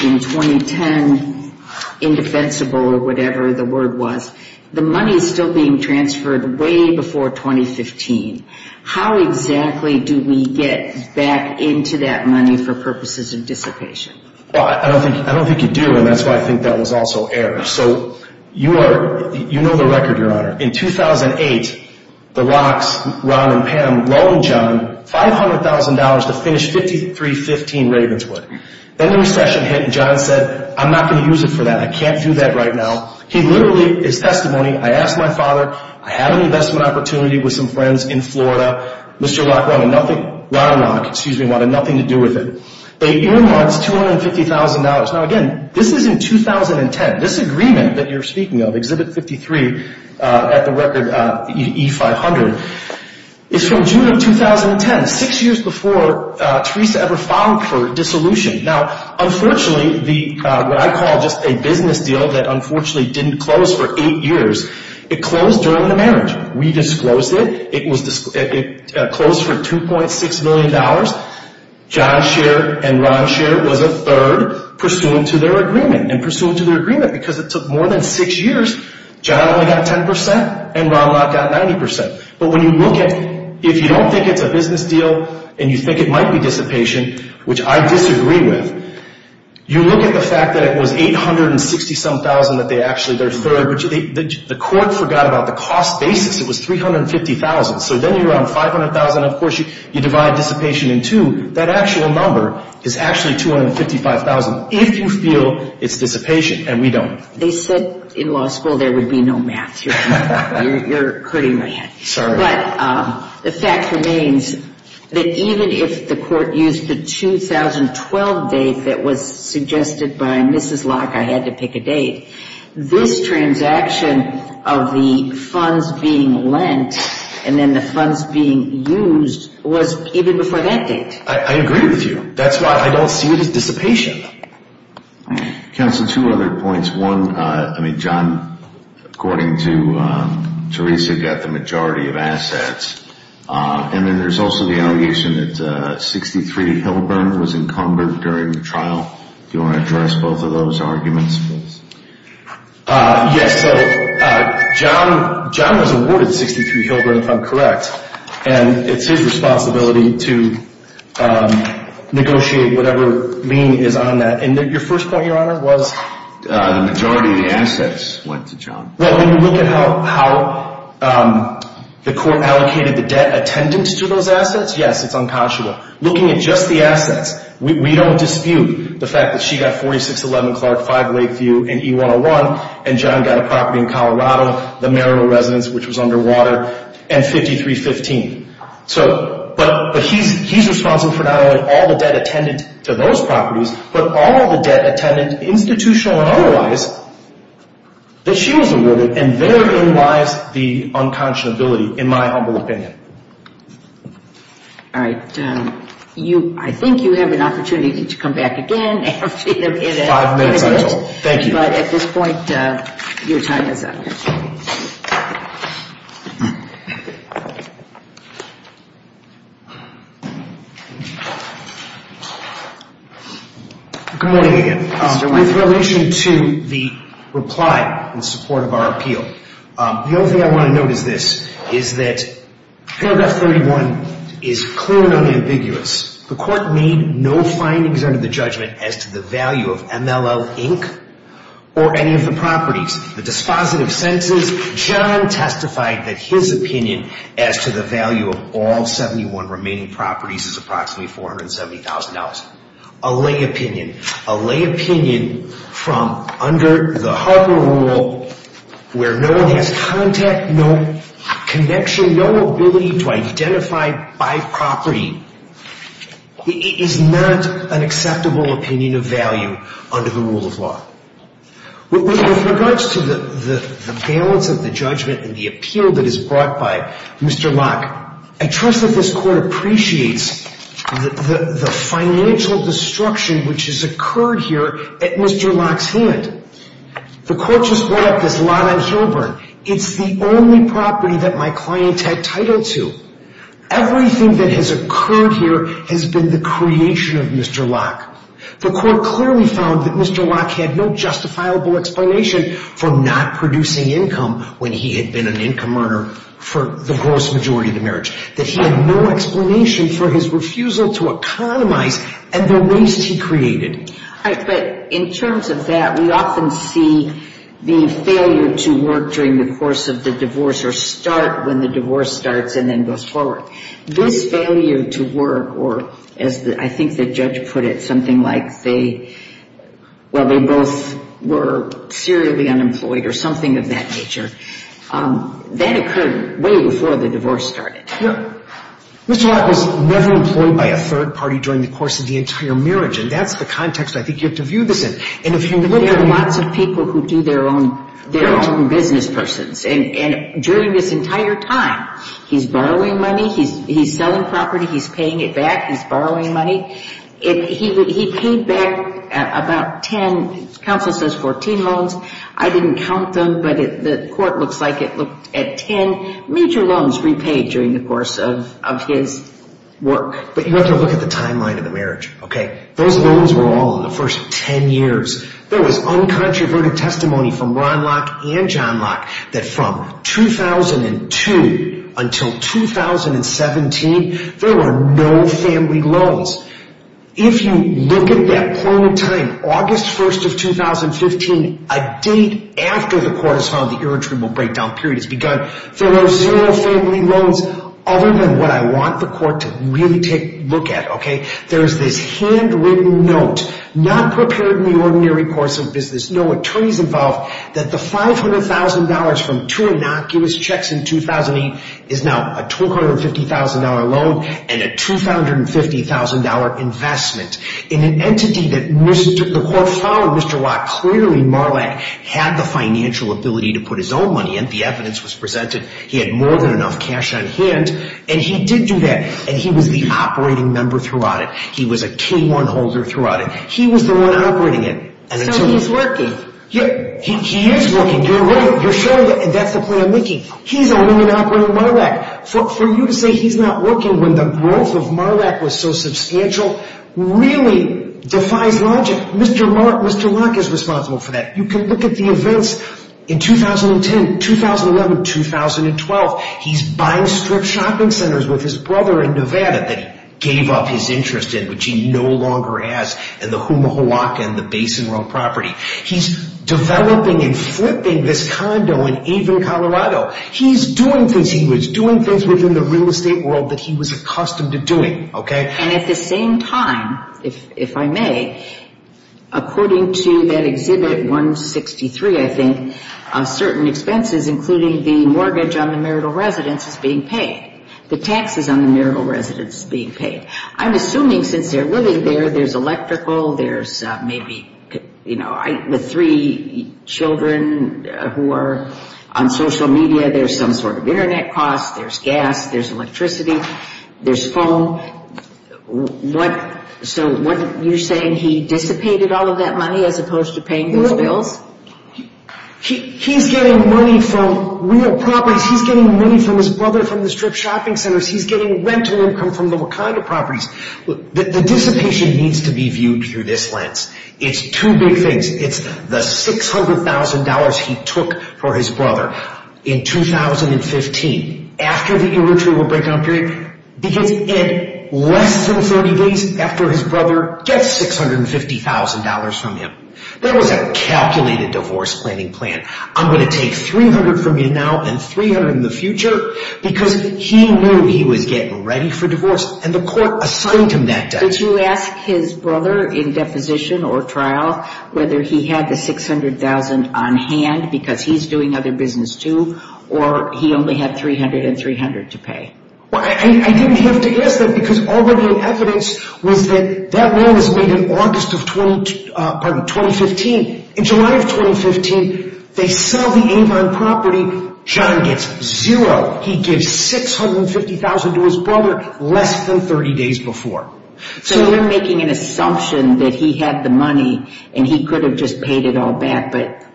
in 2010 indefensible or whatever the word was, the money is still being transferred way before 2015. How exactly do we get back into that money for purposes of dissipation? Well, I don't think you do, and that's why I think that was also errored. So you know the record, Your Honor. In 2008, the Rocks, Ron and Pam, loaned John $500,000 to finish 5315 Ravenswood. Then the recession hit, and John said, I'm not going to use it for that. I can't do that right now. He literally is testimony. I asked my father. I had an investment opportunity with some friends in Florida. Mr. Rock wanted nothing to do with it. They earmarked $250,000. Now, again, this is in 2010. This agreement that you're speaking of, Exhibit 53 at the record, E500, is from June of 2010, six years before Teresa ever filed for dissolution. Now, unfortunately, what I call just a business deal that unfortunately didn't close for eight years, it closed during the marriage. We disclosed it. It closed for $2.6 million. John's share and Ron's share was a third pursuant to their agreement. And pursuant to their agreement, because it took more than six years, John only got 10% and Ron Locke got 90%. But when you look at, if you don't think it's a business deal and you think it might be dissipation, which I disagree with, you look at the fact that it was $860,000 that they actually, their third, which the court forgot about the cost basis. It was $350,000. So then you're on $500,000. Of course, you divide dissipation in two. That actual number is actually $255,000 if you feel it's dissipation, and we don't. They said in law school there would be no math. You're hurting my head. Sorry. But the fact remains that even if the court used the 2012 date that was suggested by Mrs. Locke, I had to pick a date, this transaction of the funds being lent and then the funds being used was even before that date. I agree with you. That's why I don't see it as dissipation. Counsel, two other points. One, I mean, John, according to Teresa, got the majority of assets. And then there's also the allegation that 63 Hilburn was encumbered during the trial. Do you want to address both of those arguments, please? Yes. So John was awarded 63 Hilburn, if I'm correct, and it's his responsibility to negotiate whatever lien is on that. And your first point, Your Honor, was? The majority of the assets went to John. Well, when you look at how the court allocated the debt attendant to those assets, yes, it's unconscionable. Looking at just the assets, we don't dispute the fact that she got 4611 Clark, 5 Lakeview, and E101, and John got a property in Colorado, the Merrill residence, which was underwater, and 5315. But he's responsible for not only all the debt attendant to those properties but all the debt attendant, institutional and otherwise, that she was awarded. And therein lies the unconscionability, in my humble opinion. All right. I think you have an opportunity to come back again. Five minutes, I'm told. Thank you. But at this point, your time is up. Good morning again. With relation to the reply in support of our appeal, the only thing I want to note is this, is that paragraph 31 is clearly unambiguous. The court made no findings under the judgment as to the value of MLL Inc. or any of the properties. The dispositive sentences, John testified that his opinion as to the value of all 71 remaining properties is approximately $470,000. A lay opinion, a lay opinion from under the Harper rule, where no one has contact, no connection, no ability to identify by property, is not an acceptable opinion of value under the rule of law. With regards to the balance of the judgment and the appeal that is brought by Mr. Locke, I trust that this court appreciates the financial destruction which has occurred here at Mr. Locke's hand. The court just brought up this lot on Hilburn. It's the only property that my client had title to. Everything that has occurred here has been the creation of Mr. Locke. The court clearly found that Mr. Locke had no justifiable explanation for not producing income when he had been an income earner for the gross majority of the marriage, that he had no explanation for his refusal to economize and the waste he created. But in terms of that, we often see the failure to work during the course of the divorce or start when the divorce starts and then goes forward. This failure to work, or as I think the judge put it, something like they, while they both were serially unemployed or something of that nature, that occurred way before the divorce started. Mr. Locke was never employed by a third party during the course of the entire marriage, and that's the context I think you have to view this in. There are lots of people who do their own business persons, and during this entire time, he's borrowing money, he's selling property, he's paying it back, he's borrowing money. He paid back about 10, counsel says 14 loans. I didn't count them, but the court looks like it looked at 10 major loans repaid during the course of his work. But you have to look at the timeline of the marriage. Those loans were all in the first 10 years. There was uncontroverted testimony from Ron Locke and John Locke that from 2002 until 2017, there were no family loans. If you look at that point in time, August 1st of 2015, a date after the court has found the irritable breakdown period has begun, there are zero family loans other than what I want the court to really take a look at. There's this handwritten note, not prepared in the ordinary course of business, no attorneys involved, that the $500,000 from two innocuous checks in 2008 is now a $250,000 loan and a $250,000 investment. In an entity that the court found, Mr. Locke clearly, Marlack, had the financial ability to put his own money in. The evidence was presented. He had more than enough cash on hand, and he did do that. And he was the operating member throughout it. He was a K1 holder throughout it. He was the one operating it. So he's working. He is working. You're right. You're showing that's the plan Mickey. He's owning and operating Marlack. For you to say he's not working when the growth of Marlack was so substantial really defies logic. Mr. Locke is responsible for that. You can look at the events in 2010, 2011, 2012. He's buying strip shopping centers with his brother in Nevada that he gave up his interest in, which he no longer has, in the Humahuaca and the Basin Row property. He's developing and flipping this condo in Avon, Colorado. He's doing things. He was doing things within the real estate world that he was accustomed to doing. And at the same time, if I may, according to that Exhibit 163, I think, certain expenses, including the mortgage on the marital residence, is being paid. The taxes on the marital residence is being paid. I'm assuming since they're living there, there's electrical, there's maybe the three children who are on social media, there's some sort of Internet cost, there's gas, there's electricity, there's phone. So you're saying he dissipated all of that money as opposed to paying those bills? He's getting money from real properties. He's getting money from his brother from the strip shopping centers. He's getting rental income from the Wakanda properties. The dissipation needs to be viewed through this lens. It's two big things. It's the $600,000 he took for his brother in 2015, after the irretrievable break-up period, because less than 30 days after his brother gets $650,000 from him. That was a calculated divorce planning plan. I'm going to take $300,000 from you now and $300,000 in the future because he knew he was getting ready for divorce. And the court assigned him that debt. Did you ask his brother in deposition or trial whether he had the $600,000 on hand because he's doing other business too, or he only had $300,000 and $300,000 to pay? I didn't have to ask that because all of the evidence was that that loan was made in August of 2015. In July of 2015, they sell the Avon property. John gets zero. He gives $650,000 to his brother less than 30 days before. So you're making an assumption that he had the money and he could have just paid it all back, but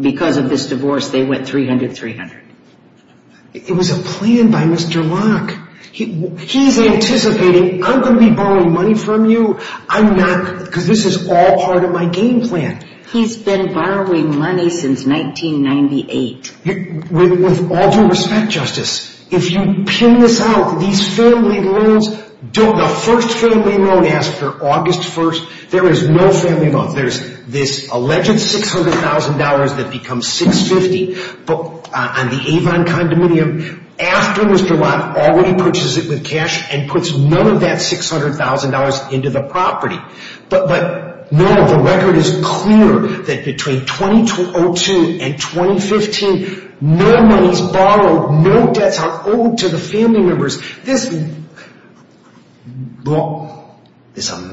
because of this divorce they went $300,000, $300,000. It was a plan by Mr. Locke. He's anticipating, I'm going to be borrowing money from you. I'm not, because this is all part of my game plan. He's been borrowing money since 1998. With all due respect, Justice, if you pin this out, these family loans, the first family loan after August 1st, there is no family loan. There's this alleged $600,000 that becomes $650,000 on the Avon condominium after Mr. Locke already purchases it with cash and puts none of that $600,000 into the property. But no, the record is clear that between 2002 and 2015, no money is borrowed, no debts are owed to the family members. This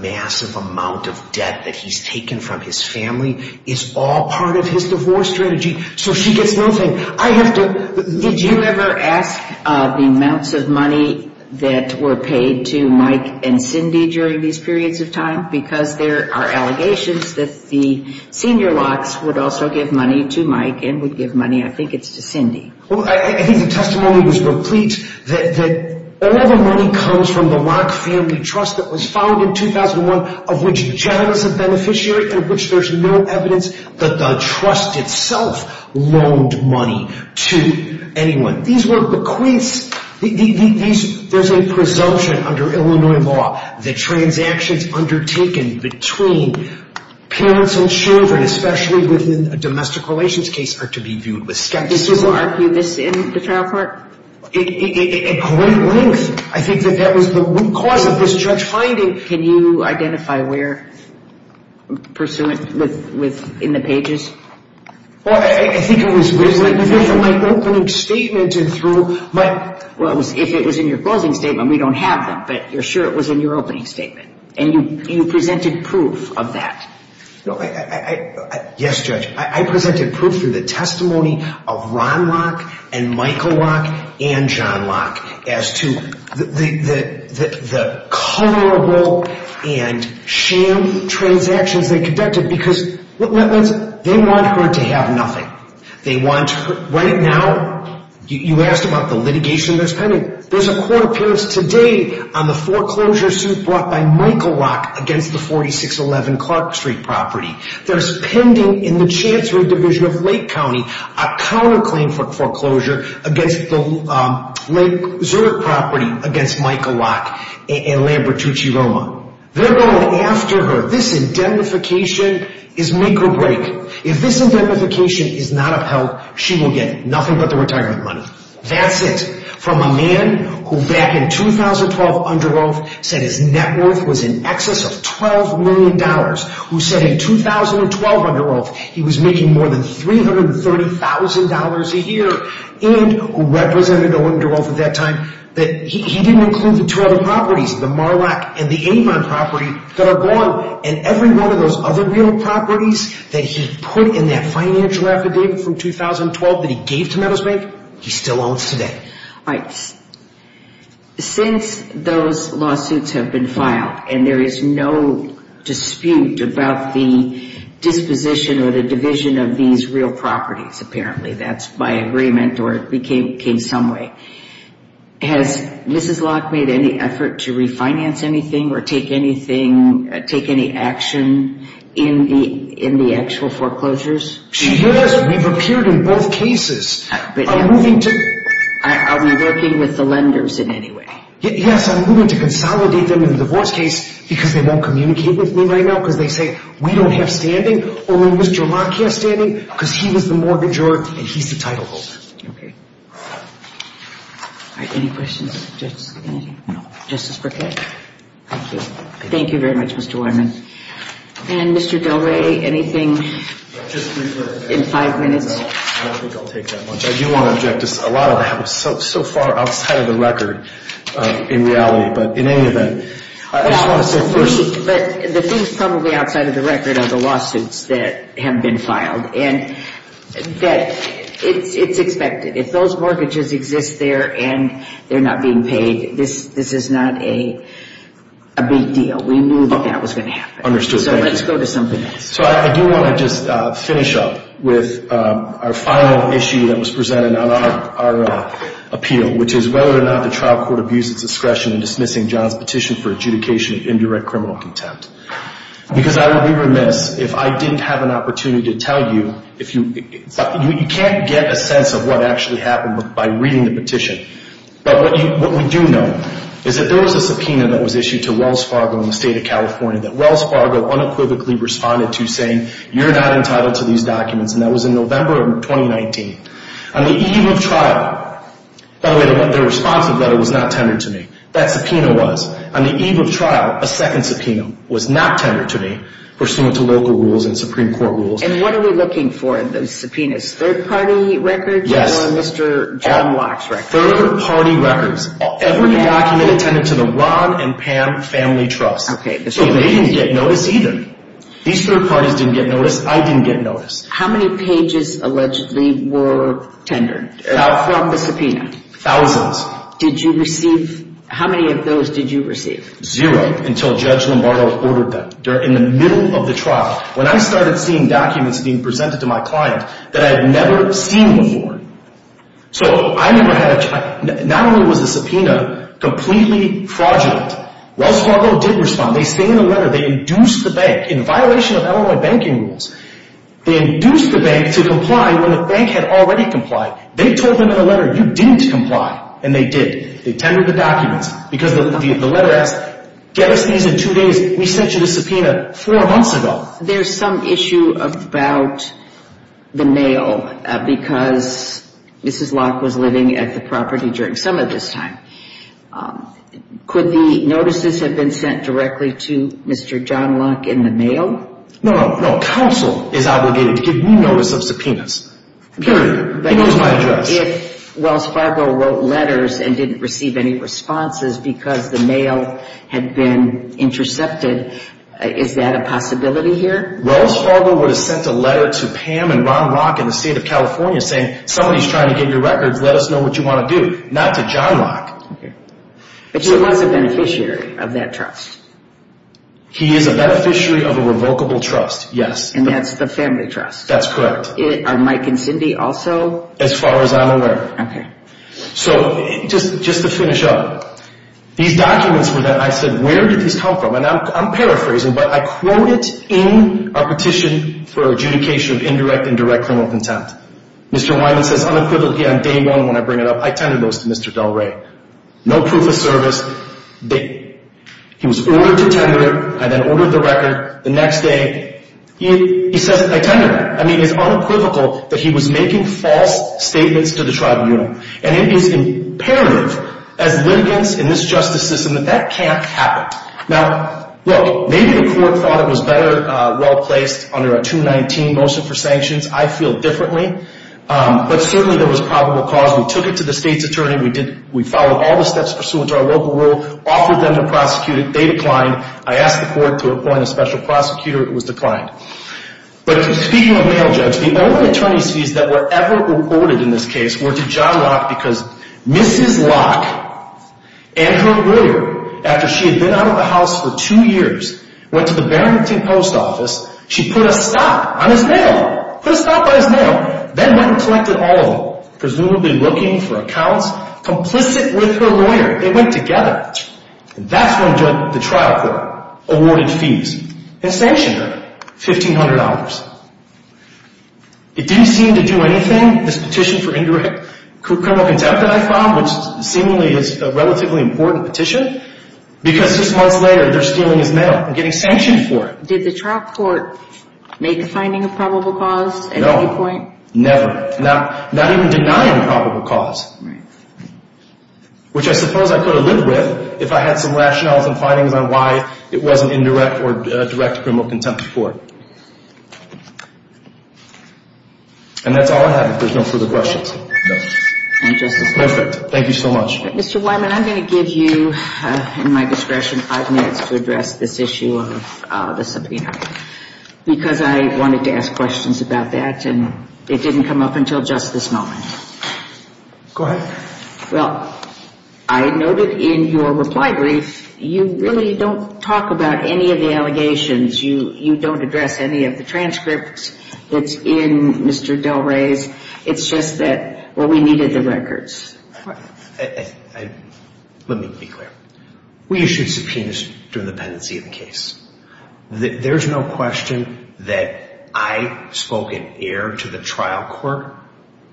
massive amount of debt that he's taken from his family is all part of his divorce strategy, so she gets nothing. Did you ever ask the amounts of money that were paid to Mike and Cindy during these periods of time? Because there are allegations that the senior Locke's would also give money to Mike and would give money, I think it's to Cindy. I think the testimony was complete that all the money comes from the Locke family trust that was founded in 2001, of which Jack is a beneficiary, and of which there's no evidence that the trust itself loaned money to anyone. There's a presumption under Illinois law that transactions undertaken between parents and children, especially within a domestic relations case, are to be viewed with skepticism. Did you argue this in the trial court? At great length. I think that that was the root cause of this judge finding. Can you identify where, in the pages? I think it was in my opening statement. Well, if it was in your closing statement, we don't have them, but you're sure it was in your opening statement. And you presented proof of that. Yes, Judge. I presented proof through the testimony of Ron Locke and Michael Locke and John Locke as to the culpable and sham transactions they conducted because they want her to have nothing. Right now, you asked about the litigation that's pending. There's a court appearance today on the foreclosure suit brought by Michael Locke against the 4611 Clark Street property. There's pending in the Chancery Division of Lake County a counterclaim for foreclosure against the Lake Zurich property against Michael Locke and Lambertucci Roma. They're going after her. This indemnification is make or break. If this indemnification is not upheld, she will get nothing but the retirement money. That's it. From a man who back in 2012 under oath said his net worth was in excess of $12 million, who said in 2012 under oath he was making more than $330,000 a year, and who represented under oath at that time, that he didn't include the two other properties, the Marlock and the Avon property that are gone, and every one of those other real properties that he put in that financial affidavit from 2012 that he gave to Meadows Bank, he still owns today. All right. Since those lawsuits have been filed and there is no dispute about the disposition or the division of these real properties, apparently that's by agreement or it became some way, has Mrs. Locke made any effort to refinance anything or take any action in the actual foreclosures? She has. We've appeared in both cases. Are we working with the lenders in any way? Yes, I'm moving to consolidate them in the divorce case because they won't communicate with me right now because they say we don't have standing or Mr. Locke has standing because he was the mortgager and he's the title holder. Okay. All right. Any questions? Just anything? No. Justice Brickett? Thank you. Thank you very much, Mr. Wyman. And Mr. Del Ray, anything in five minutes? I don't think I'll take that much. I do want to object. A lot of that was so far outside of the record in reality. But in any event, I just want to say thank you. But the things probably outside of the record are the lawsuits that have been filed and that it's expected. If those mortgages exist there and they're not being paid, this is not a big deal. We knew that that was going to happen. Understood. So let's go to something else. So I do want to just finish up with our final issue that was presented on our appeal, which is whether or not the trial court abused its discretion in dismissing John's petition for adjudication of indirect criminal contempt. Because I would be remiss if I didn't have an opportunity to tell you. You can't get a sense of what actually happened by reading the petition. But what we do know is that there was a subpoena that was issued to Wells Fargo in the state of California that Wells Fargo unequivocally responded to saying, you're not entitled to these documents. And that was in November of 2019. On the eve of trial, by the way, the responsive letter was not tendered to me. That subpoena was. On the eve of trial, a second subpoena was not tendered to me, pursuant to local rules and Supreme Court rules. And what are we looking for in those subpoenas? Third-party records? Yes. Or Mr. John Locke's records? Third-party records. Every document attended to the Ron and Pam Family Trust. Okay. So they didn't get noticed either. These third parties didn't get noticed. I didn't get noticed. How many pages allegedly were tendered from the subpoena? Thousands. Did you receive? How many of those did you receive? Zero until Judge Lombardo ordered them. They're in the middle of the trial. When I started seeing documents being presented to my client that I had never seen before. So I never had a chance. Not only was the subpoena completely fraudulent, Wells Fargo did respond. They say in the letter they induced the bank, in violation of Illinois banking rules, they induced the bank to comply when the bank had already complied. They told them in the letter, you didn't comply. And they did. They tendered the documents. Because the letter asked, get us these in two days. We sent you the subpoena four months ago. There's some issue about the mail, because Mrs. Locke was living at the property during some of this time. Could the notices have been sent directly to Mr. John Locke in the mail? No, no. Counsel is obligated to give me notice of subpoenas. Period. He knows my address. If Wells Fargo wrote letters and didn't receive any responses because the mail had been intercepted, is that a possibility here? Wells Fargo would have sent a letter to Pam and Ron Locke in the state of California saying somebody's trying to get your records, let us know what you want to do. Not to John Locke. But he was a beneficiary of that trust. He is a beneficiary of a revocable trust, yes. And that's the family trust. That's correct. Are Mike and Cindy also? As far as I'm aware. Okay. So just to finish up, these documents were that I said, where did these come from? And I'm paraphrasing, but I quoted in a petition for adjudication of indirect and direct criminal contempt. Mr. Wyman says unequivocally on day one when I bring it up, I tendered those to Mr. Del Rey. No proof of service. He was ordered to tender. I then ordered the record. The next day, he says I tendered them. I mean, it's unequivocal that he was making false statements to the tribunal. And it is imperative as litigants in this justice system that that can't happen. Now, look, maybe the court thought it was better well placed under a 219 motion for sanctions. I feel differently. But certainly there was probable cause. We took it to the state's attorney. We followed all the steps pursuant to our local rule, offered them to prosecute it. They declined. I asked the court to appoint a special prosecutor. It was declined. But speaking of mail judge, the only attorney's fees that were ever reported in this case were to John Locke because Mrs. Locke and her lawyer, after she had been out of the house for two years, went to the Barrington Post Office. She put a stop on his mail. Put a stop on his mail. Then went and collected all of them, presumably looking for accounts complicit with her lawyer. They went together. And that's when the trial court awarded fees and sanctioned her, $1,500. It didn't seem to do anything, this petition for indirect criminal contempt that I found, which seemingly is a relatively important petition, because just months later they're stealing his mail and getting sanctioned for it. Did the trial court make a finding of probable cause at any point? No, never. Not even denying probable cause, which I suppose I could have lived with if I had some rationales and findings on why it wasn't indirect or direct criminal contempt for it. And that's all I have. If there's no further questions. Thank you so much. Mr. Wyman, I'm going to give you, in my discretion, five minutes to address this issue of the subpoena because I wanted to ask questions about that, and it didn't come up until just this moment. Go ahead. Well, I noted in your reply brief you really don't talk about any of the allegations. You don't address any of the transcripts that's in Mr. Del Rey's. It's just that, well, we needed the records. Let me be clear. We issued subpoenas during the pendency of the case. There's no question that I spoke in error to the trial court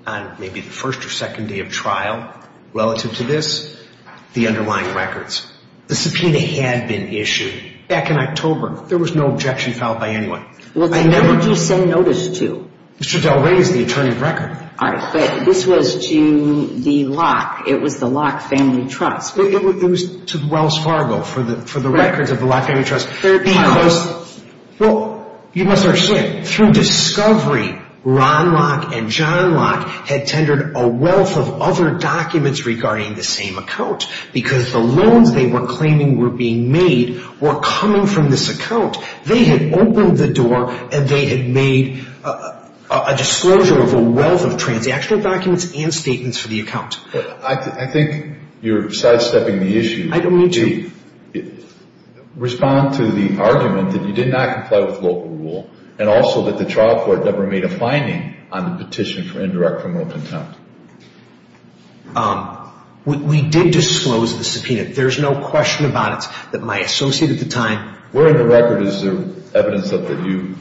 on maybe the first or second day of trial relative to this, the underlying records. The subpoena had been issued back in October. There was no objection filed by anyone. Well, then who did you send notice to? Mr. Del Rey is the attorney at record. All right, but this was to the Locke. It was the Locke Family Trust. It was to Wells Fargo for the records of the Locke Family Trust. Well, you must understand, through discovery, Ron Locke and John Locke had tendered a wealth of other documents regarding the same account because the loans they were claiming were being made were coming from this account. They had opened the door, and they had made a disclosure of a wealth of transactional documents and statements for the account. I think you're sidestepping the issue. I don't mean to. Respond to the argument that you did not comply with local rule and also that the trial court never made a finding on the petition for indirect criminal contempt. We did disclose the subpoena. There's no question about it that my associate at the time Where in the record is there evidence that you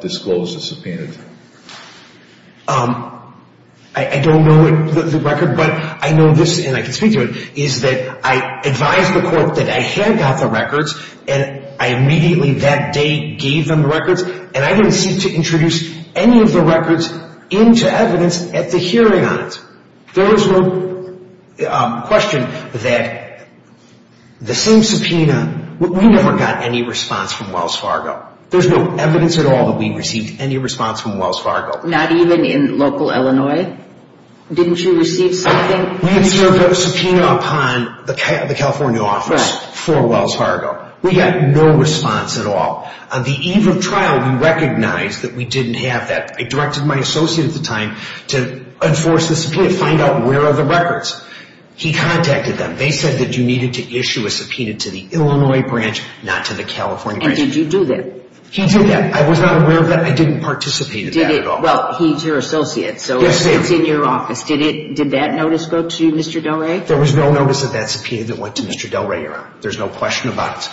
disclosed the subpoena to? I don't know the record, but I know this, and I can speak to it, is that I advised the court that I had got the records, and I immediately that day gave them the records, and I didn't seek to introduce any of the records into evidence at the hearing on it. There is no question that the same subpoena We never got any response from Wells Fargo. There's no evidence at all that we received any response from Wells Fargo. Not even in local Illinois? Didn't you receive something? We had served a subpoena upon the California office for Wells Fargo. We got no response at all. On the eve of trial, we recognized that we didn't have that. I directed my associate at the time to enforce the subpoena, find out where are the records. He contacted them. They said that you needed to issue a subpoena to the Illinois branch, not to the California branch. And did you do that? He did that. I was not aware of that. I didn't participate in that at all. Well, he's your associate, so it's in your office. Did that notice go to Mr. Del Rey? There was no notice of that subpoena that went to Mr. Del Rey, Your Honor. There's no question about it.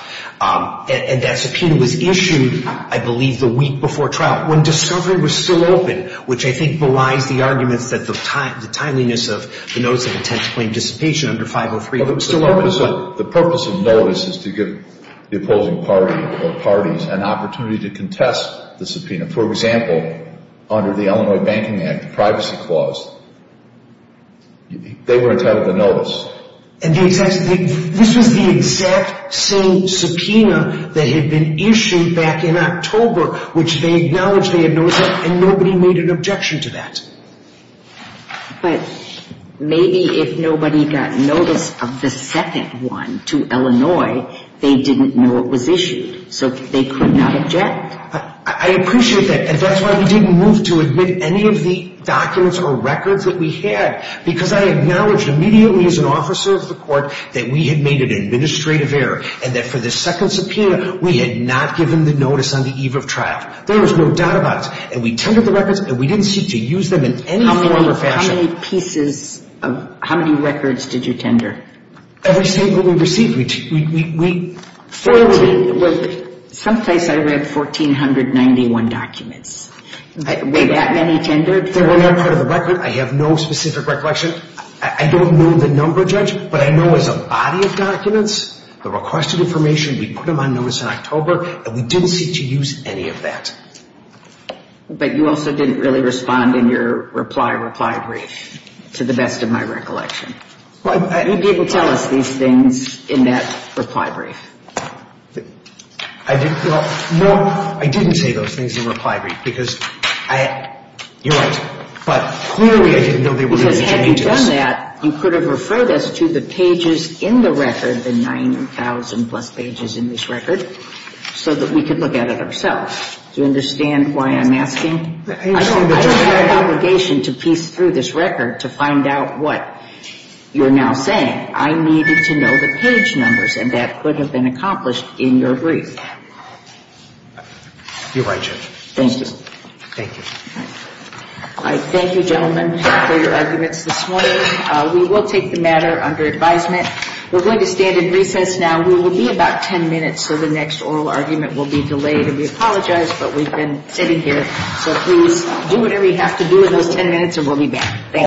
And that subpoena was issued, I believe, the week before trial, when discovery was still open, which I think belies the arguments that the timeliness of the notice of intent to claim dissipation under 503 was still open. The purpose of notice is to give the opposing party or parties an opportunity to contest the subpoena. For example, under the Illinois Banking Act, the privacy clause, they were entitled to notice. And this was the exact same subpoena that had been issued back in October, which they acknowledged they had noticed, and nobody made an objection to that. But maybe if nobody got notice of the second one to Illinois, they didn't know it was issued, so they could not object. I appreciate that, and that's why we didn't move to admit any of the documents or records that we had, because I acknowledged immediately as an officer of the court that we had made an administrative error and that for the second subpoena, we had not given the notice on the eve of trial. There was no doubt about it. And we tendered the records, and we didn't seek to use them in any form or fashion. Every statement we received. Some place I read 1,491 documents. Were that many tendered? They were not part of the record. I have no specific recollection. I don't know the number, Judge, but I know as a body of documents, the requested information, we put them on notice in October, and we didn't seek to use any of that. But you also didn't really respond in your reply brief, to the best of my recollection. You didn't tell us these things in that reply brief. I didn't. Well, no, I didn't say those things in the reply brief, because I had, you're right, but clearly I didn't know they were going to change this. Because had you done that, you could have referred us to the pages in the record, the 9,000-plus pages in this record, so that we could look at it ourselves. Do you understand why I'm asking? I don't have an obligation to piece through this record to find out what you're now saying. I needed to know the page numbers, and that could have been accomplished in your brief. You're right, Judge. Thank you. Thank you. All right. Thank you, gentlemen, for your arguments this morning. We will take the matter under advisement. We're going to stand in recess now. We will be about 10 minutes, so the next oral argument will be delayed, and we apologize, but we've been sitting here, so please do whatever you have to do in those 10 minutes, and we'll be back. Thank you.